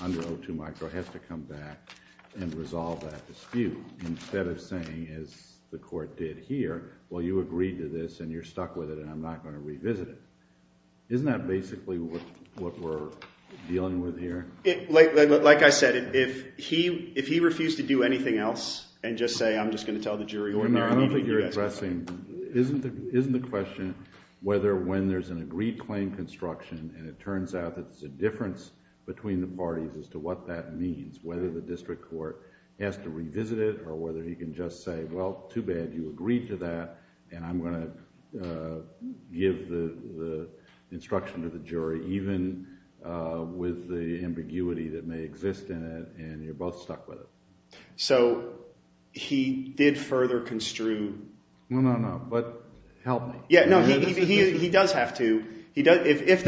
under O2 micro has to come back and resolve that dispute instead of saying as the court did here, well, you agreed to this and you're stuck with it and I'm not going to revisit it. Isn't that basically what we're dealing with here? Like I said, if he refused to do anything else and just say, I'm just going to tell the jury. Isn't the question whether when there's an agreed claim construction and it turns out that the difference between the parties as to what that means, whether the district court has to revisit it or whether he can just say, well, too bad you agreed to that and I'm going to give the instruction to the jury even with the ambiguity that may exist in it and you're both stuck with it. So he did further construe. No, no, no, but help me. Yeah, no, he does have to. If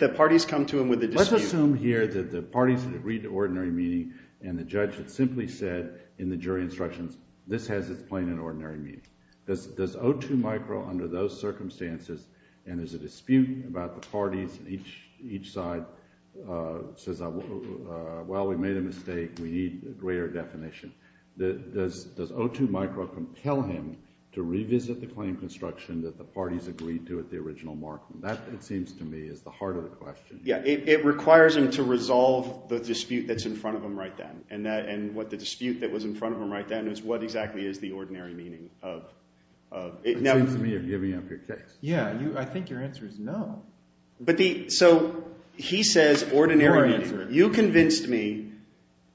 the parties come to him with a dispute. Let's assume here that the parties agreed to ordinary meaning and the judge has simply said in the jury instruction, this has a plain and ordinary meaning. Does O2 micro under those circumstances and is it a dispute about the parties on each side says, well, we made a mistake. We need a greater definition. Does O2 micro compel him to revisit the claim construction that the parties agreed to at the original mark? That seems to me is the heart of the question. Yeah, it requires him to resolve the dispute that's in front of him right then and what the dispute that was in front of him right then is what exactly is the ordinary meaning of it. It seems to me you're giving up your case. Yeah, I think your answer is no. So he says ordinary meaning. You convinced me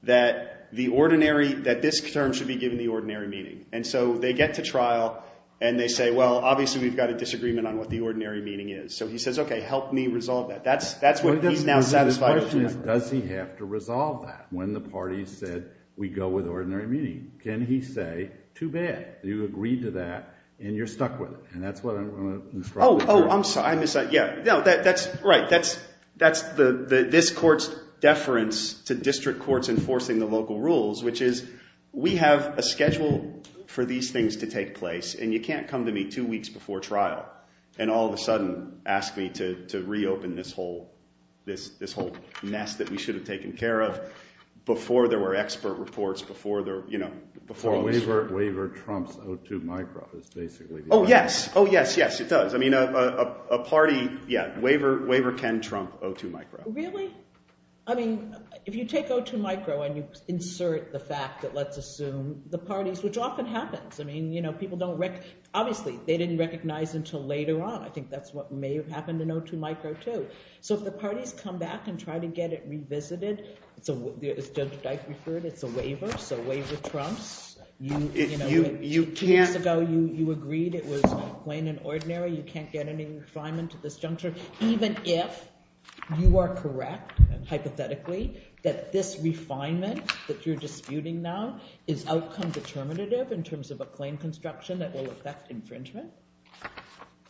that this term should be given the ordinary meaning and so they get to trial and they say, well, obviously we've got a disagreement on what the ordinary meaning is. So he says, okay, help me resolve that. That's what he's now satisfied with. Does he have to resolve that when the parties said we go with ordinary meaning? Can he say, too bad, you agreed to that and you're stuck with it and that's what I'm going to instruct him to do. Oh, I'm sorry. That's right. That's this court's deference to district courts enforcing the local rules which is we have a schedule for these things to take place and you can't come to me two weeks before trial and all of a sudden ask me to reopen this whole mess that we should have taken care of before there were expert reports, before there were expert reports. The waiver trumps O2 micro. Oh, yes. Oh, yes, yes, it does. I mean, a party, yeah, waiver can trump O2 micro. Really? I mean, if you take O2 micro and you insert the fact that let's assume the parties, which often happens. I mean, you know, people don't recognize. Obviously, they didn't recognize until later on. I think that's what may have happened in O2 micro too. So if the parties come back and try to get it revisited, as Judge Dice referred, it's a waiver, so waiver trumps. Two years ago you agreed it was plain and ordinary, you can't get any refinement to this juncture, even if you are correct, hypothetically, that this refinement that you're disputing now is outcome determinative in terms of a claim construction that will affect infringement?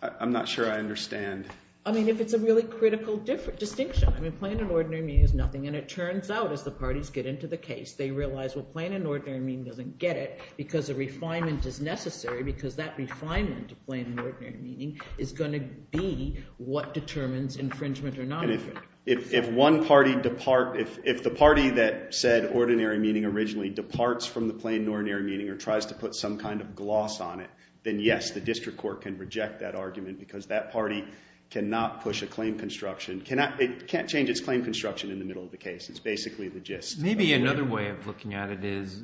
I'm not sure I understand. I mean, if it's a really critical distinction. I mean, plain and ordinary means nothing, and it turns out as the parties get into the case, they realize, well, plain and ordinary means doesn't get it because the refinement is necessary because that refinement to plain and ordinary meaning is going to be what determines infringement or not. If the party that said ordinary meaning originally departs from the plain and ordinary meaning or tries to put some kind of gloss on it, then yes, the district court can reject that argument because that party cannot push a claim construction. It can't change its claim construction in the middle of the case. It's basically the gist. Maybe another way of looking at it is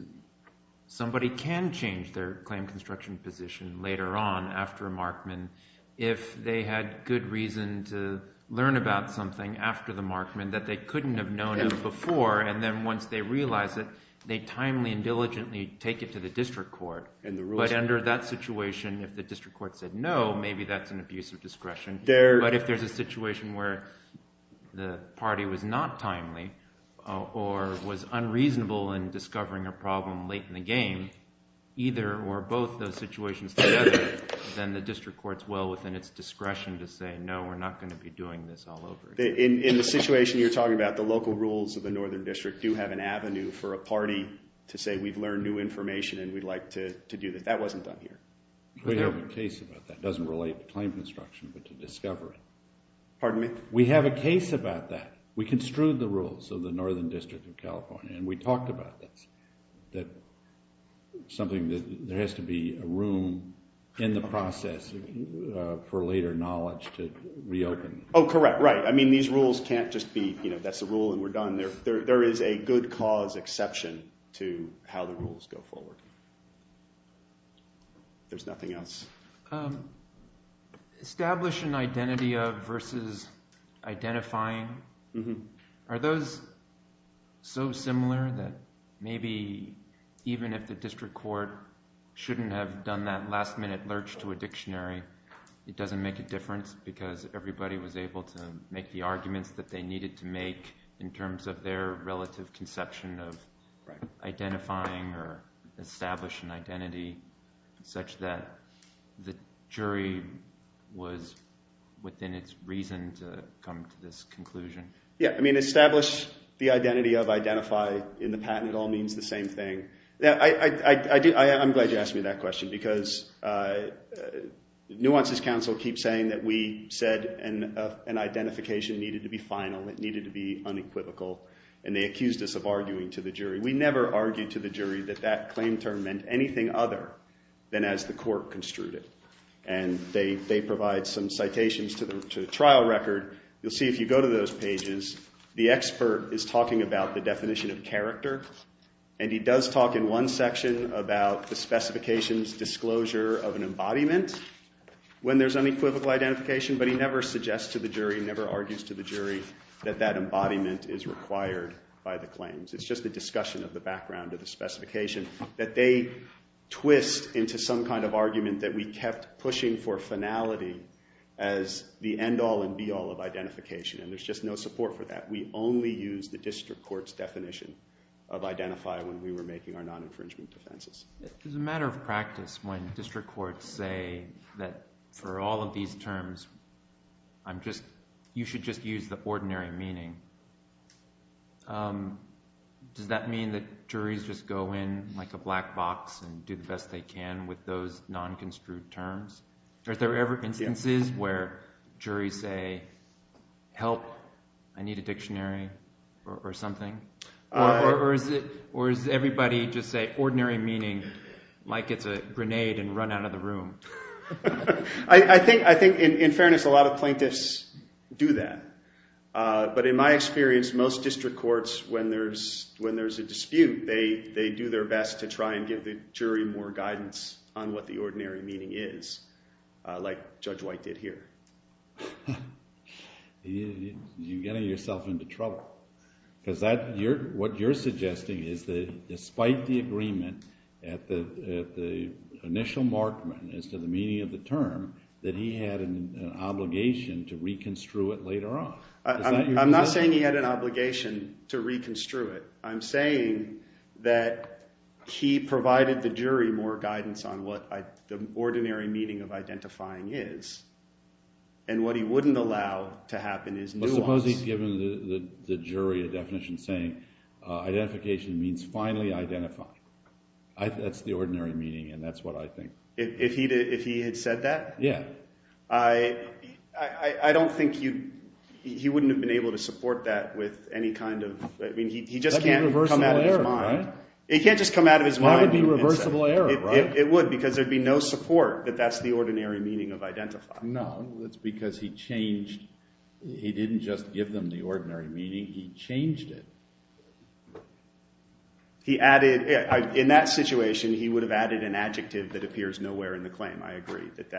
somebody can change their claim construction position later on after a markman if they had good reason to learn about something after the markman that they couldn't have known before, and then once they realize it, they timely and diligently take it to the district court. But under that situation, if the district court said no, maybe that's an abuse of discretion. But if there's a situation where the party was not timely or was unreasonable in discovering a problem late in the game, either or both those situations together, then the district court's well within its discretion to say no, we're not going to be doing this all over again. In the situation you're talking about, the local rules of the northern district do have an avenue for a party to say we've learned new information and we'd like to do this. That wasn't done here. We have a case about that. It doesn't relate to claim construction but to discovery. Pardon me? We have a case about that. We construed the rules of the northern district of California, and we talked about that, something that there has to be a room in the process for later knowledge to reopen. Oh, correct, right. I mean, these rules can't just be, you know, that's the rule and we're done. There is a good cause exception to how the rules go forward. There's nothing else. Establish an identity versus identifying. Are those so similar that maybe even if the district court shouldn't have done that last-minute lurch to a dictionary, it doesn't make a difference because everybody was able to make the arguments that they needed to make in terms of their relative conception of identifying or establish an identity such that the jury was within its reason to come to this conclusion? Yeah, I mean, establish the identity of identified in the patent all means the same thing. I'm glad you asked me that question because nuances counsel keep saying that we said an identification needed to be final, it needed to be unequivocal, and they accused us of arguing to the jury. We never argued to the jury that that claim term meant anything other than as the court construed it. And they provide some citations to the trial record. You'll see if you go to those pages, the expert is talking about the definition of character, and he does talk in one section about the specifications disclosure of an embodiment when there's unequivocal identification, but he never suggests to the jury, never argues to the jury that that embodiment is required by the claims. It's just a discussion of the background of the specification that they twist into some kind of argument that we kept pushing for finality as the end-all and be-all of identification, and there's just no support for that. We only use the district court's definition of identify when we were making our non-infringement defenses. It's a matter of practice when district courts say that for all of these terms, you should just use the ordinary meaning. Does that mean that juries just go in like a black box and do the best they can with those non-construed terms? Are there ever instances where juries say, help, I need a dictionary or something? Or does everybody just say ordinary meaning like it's a grenade and run out of the room? I think in fairness, a lot of plaintiffs do that. But in my experience, most district courts, when there's a dispute, they do their best to try and give the jury more guidance on what the ordinary meaning is, like Judge White did here. You're getting yourself into trouble. What you're suggesting is that despite the agreement at the initial markment as to the meaning of the term, that he had an obligation to reconstrue it later on. I'm not saying he had an obligation to reconstrue it. I'm saying that he provided the jury more guidance on what the ordinary meaning of identifying is, and what he wouldn't allow to happen is nuance. But suppose he's given the jury a definition saying identification means finally identifying. That's the ordinary meaning, and that's what I think. If he had said that? Yeah. I don't think he wouldn't have been able to support that with any kind of... That would be a reversible error, right? It can't just come out of his mind. That would be a reversible error, right? It would, because there'd be no support that that's the ordinary meaning of identifying. No, it's because he changed. He didn't just give them the ordinary meaning. He changed it. In that situation, he would have added an adjective that appears nowhere in the claim. I agree that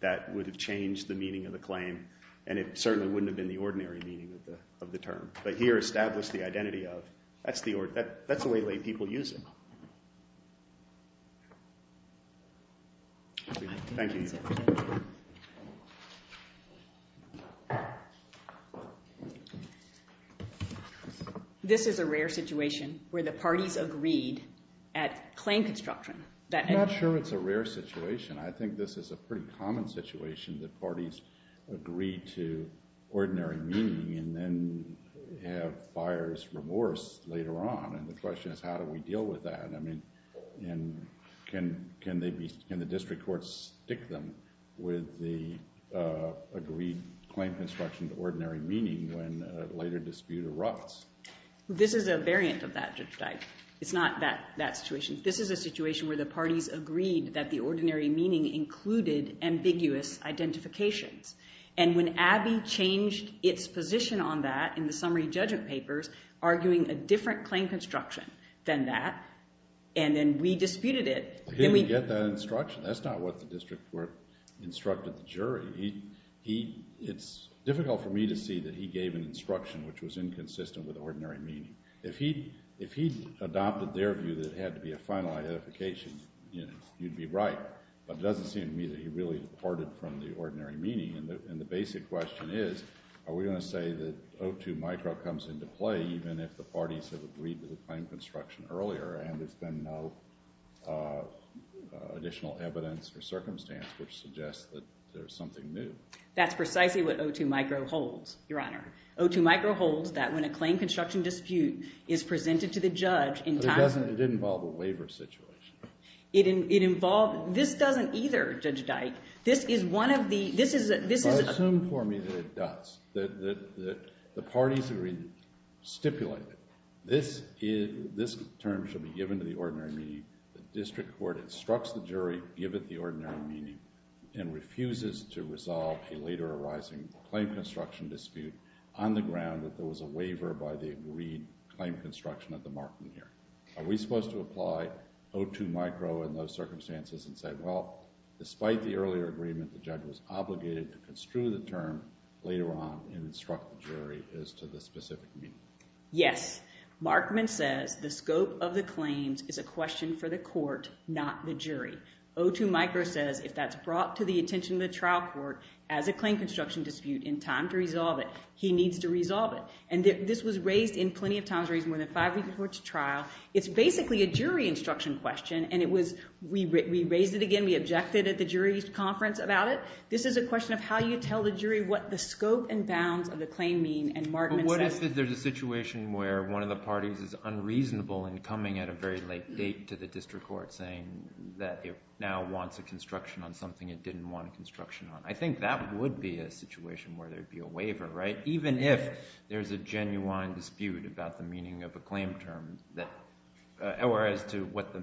that would have changed the meaning of the claim, and it certainly wouldn't have been the ordinary meaning of the term. But here, establish the identity of. That's the way people use it. Thank you. This is a rare situation where the parties agreed at claim construction that... I'm not sure it's a rare situation. I think this is a pretty common situation that parties agree to ordinary meaning and then have buyer's remorse later on. And the question is, how do we deal with that? I mean, can the district courts stick them with the agreed claim construction of ordinary meaning when a later dispute erupts? This is a variant of that, just like... It's not that situation. This is a situation where the parties agreed that the ordinary meaning included ambiguous identification. And when Abbey changed its position on that in the summary judgment papers, arguing a different claim construction than that, and then re-disputed it... He didn't get that instruction. That's not what the district court instructed the jury. It's difficult for me to see that he gave an instruction which was inconsistent with ordinary meaning. If he adopted their view that it had to be a final identification, you'd be right. But it doesn't seem to me that he really departed from the ordinary meaning. And the basic question is, are we going to say that O2 micro comes into play even if the parties have agreed to the claim construction earlier and there's been no additional evidence or circumstance which suggests that there's something new? That's precisely what O2 micro holds, Your Honor. O2 micro holds that when a claim construction dispute is presented to the judge... It didn't involve a waiver situation. It involves... This doesn't either, Judge Dike. This is one of the... I assume for me that it does. That the parties have been stipulated. This term should be given to the ordinary meaning. The district court instructs the jury to give it the ordinary meaning and refuses to resolve the later arising claim construction dispute on the ground that there was a waiver by the agreed claim construction of the Markman hearing. Are we supposed to apply O2 micro in those circumstances and say, well, despite the earlier agreement, the judge was obligated to construe the term later on and instruct the jury as to the specific meaning? Yes. Markman said the scope of the claims is a question for the court, not the jury. O2 micro says if that's brought to the attention of the trial court as a claim construction dispute in time to resolve it, he needs to resolve it. And this was raised in plenty of times raised more than five weeks before the trial. It's basically a jury instruction question. And it was... We raised it again. We objected at the jury's conference about it. This is a question of how you tell the jury what the scope and bounds of the claim mean and Markman... But what if there's a situation where one of the parties is unreasonable in coming at a very late date to the district court saying that it now wants a construction on something it didn't want a construction on? I think that would be a situation where there'd be a waiver, right? Even if there's a genuine dispute about the meaning of a claim term or as to what the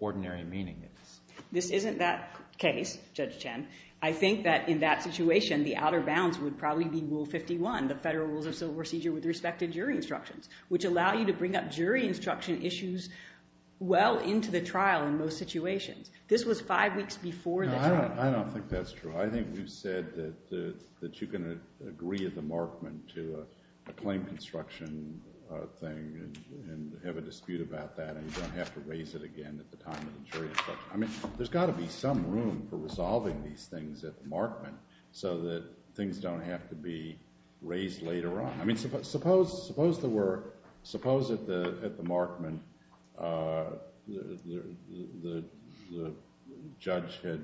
ordinary meaning is. This isn't that case, Judge Chen. I think that in that situation, the outer bounds would probably be Rule 51, the federal rule of civil procedure with respect to jury instruction, which allow you to bring up jury instruction issues well into the trial in most situations. This was five weeks before the trial. I don't think that's true. I think you said that you can agree at the Markman to a claim construction thing and have a dispute about that and you don't have to raise it again at the time of jury instruction. I mean, there's got to be some room for resolving these things at the Markman so that things don't have to be raised later on. I mean, suppose at the Markman the judge had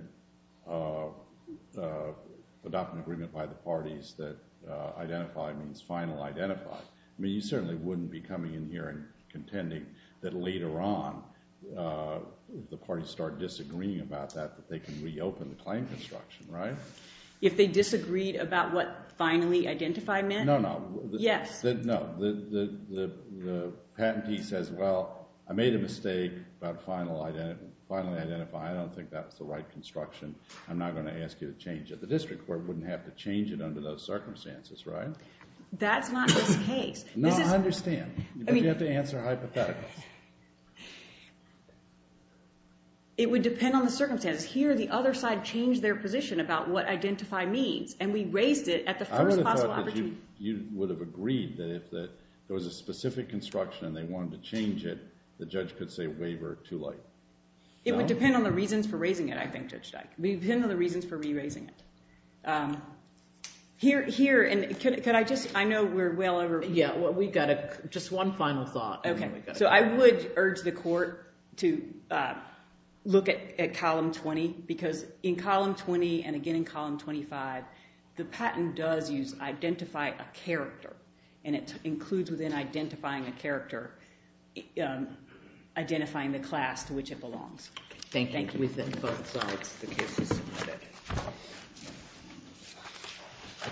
adopted an agreement by the parties that identified and was finally identified. I mean, you certainly wouldn't be coming in here and contending that later on the parties start disagreeing about that, that they can reopen the claim construction, right? If they disagreed about what finally identified meant? No, no. Yes. No, the patentee says, well, I made a mistake about finally identifying. I don't think that's the right construction. I'm not going to ask you to change it. The district court wouldn't have to change it under those circumstances, right? That's not the case. No, I understand. But you have to answer hypothetically. It would depend on the circumstances. Here, the other side changed their position about what identify means and we raised it at the first possible opportunity. I would have thought that you would have agreed that if there was a specific construction and they wanted to change it, the judge could say waiver it too late. It would depend on the reasons for raising it, I think Judge Dyke. It would depend on the reasons for re-raising it. Here, and can I just, I know we're well over. Yeah, well, we've got just one final thought. Okay, so I would urge the court to look at column 20 because in column 20 and again in column 25, the patent does use identify a character and it includes within identifying a character Thank you. Thank you. Thank you.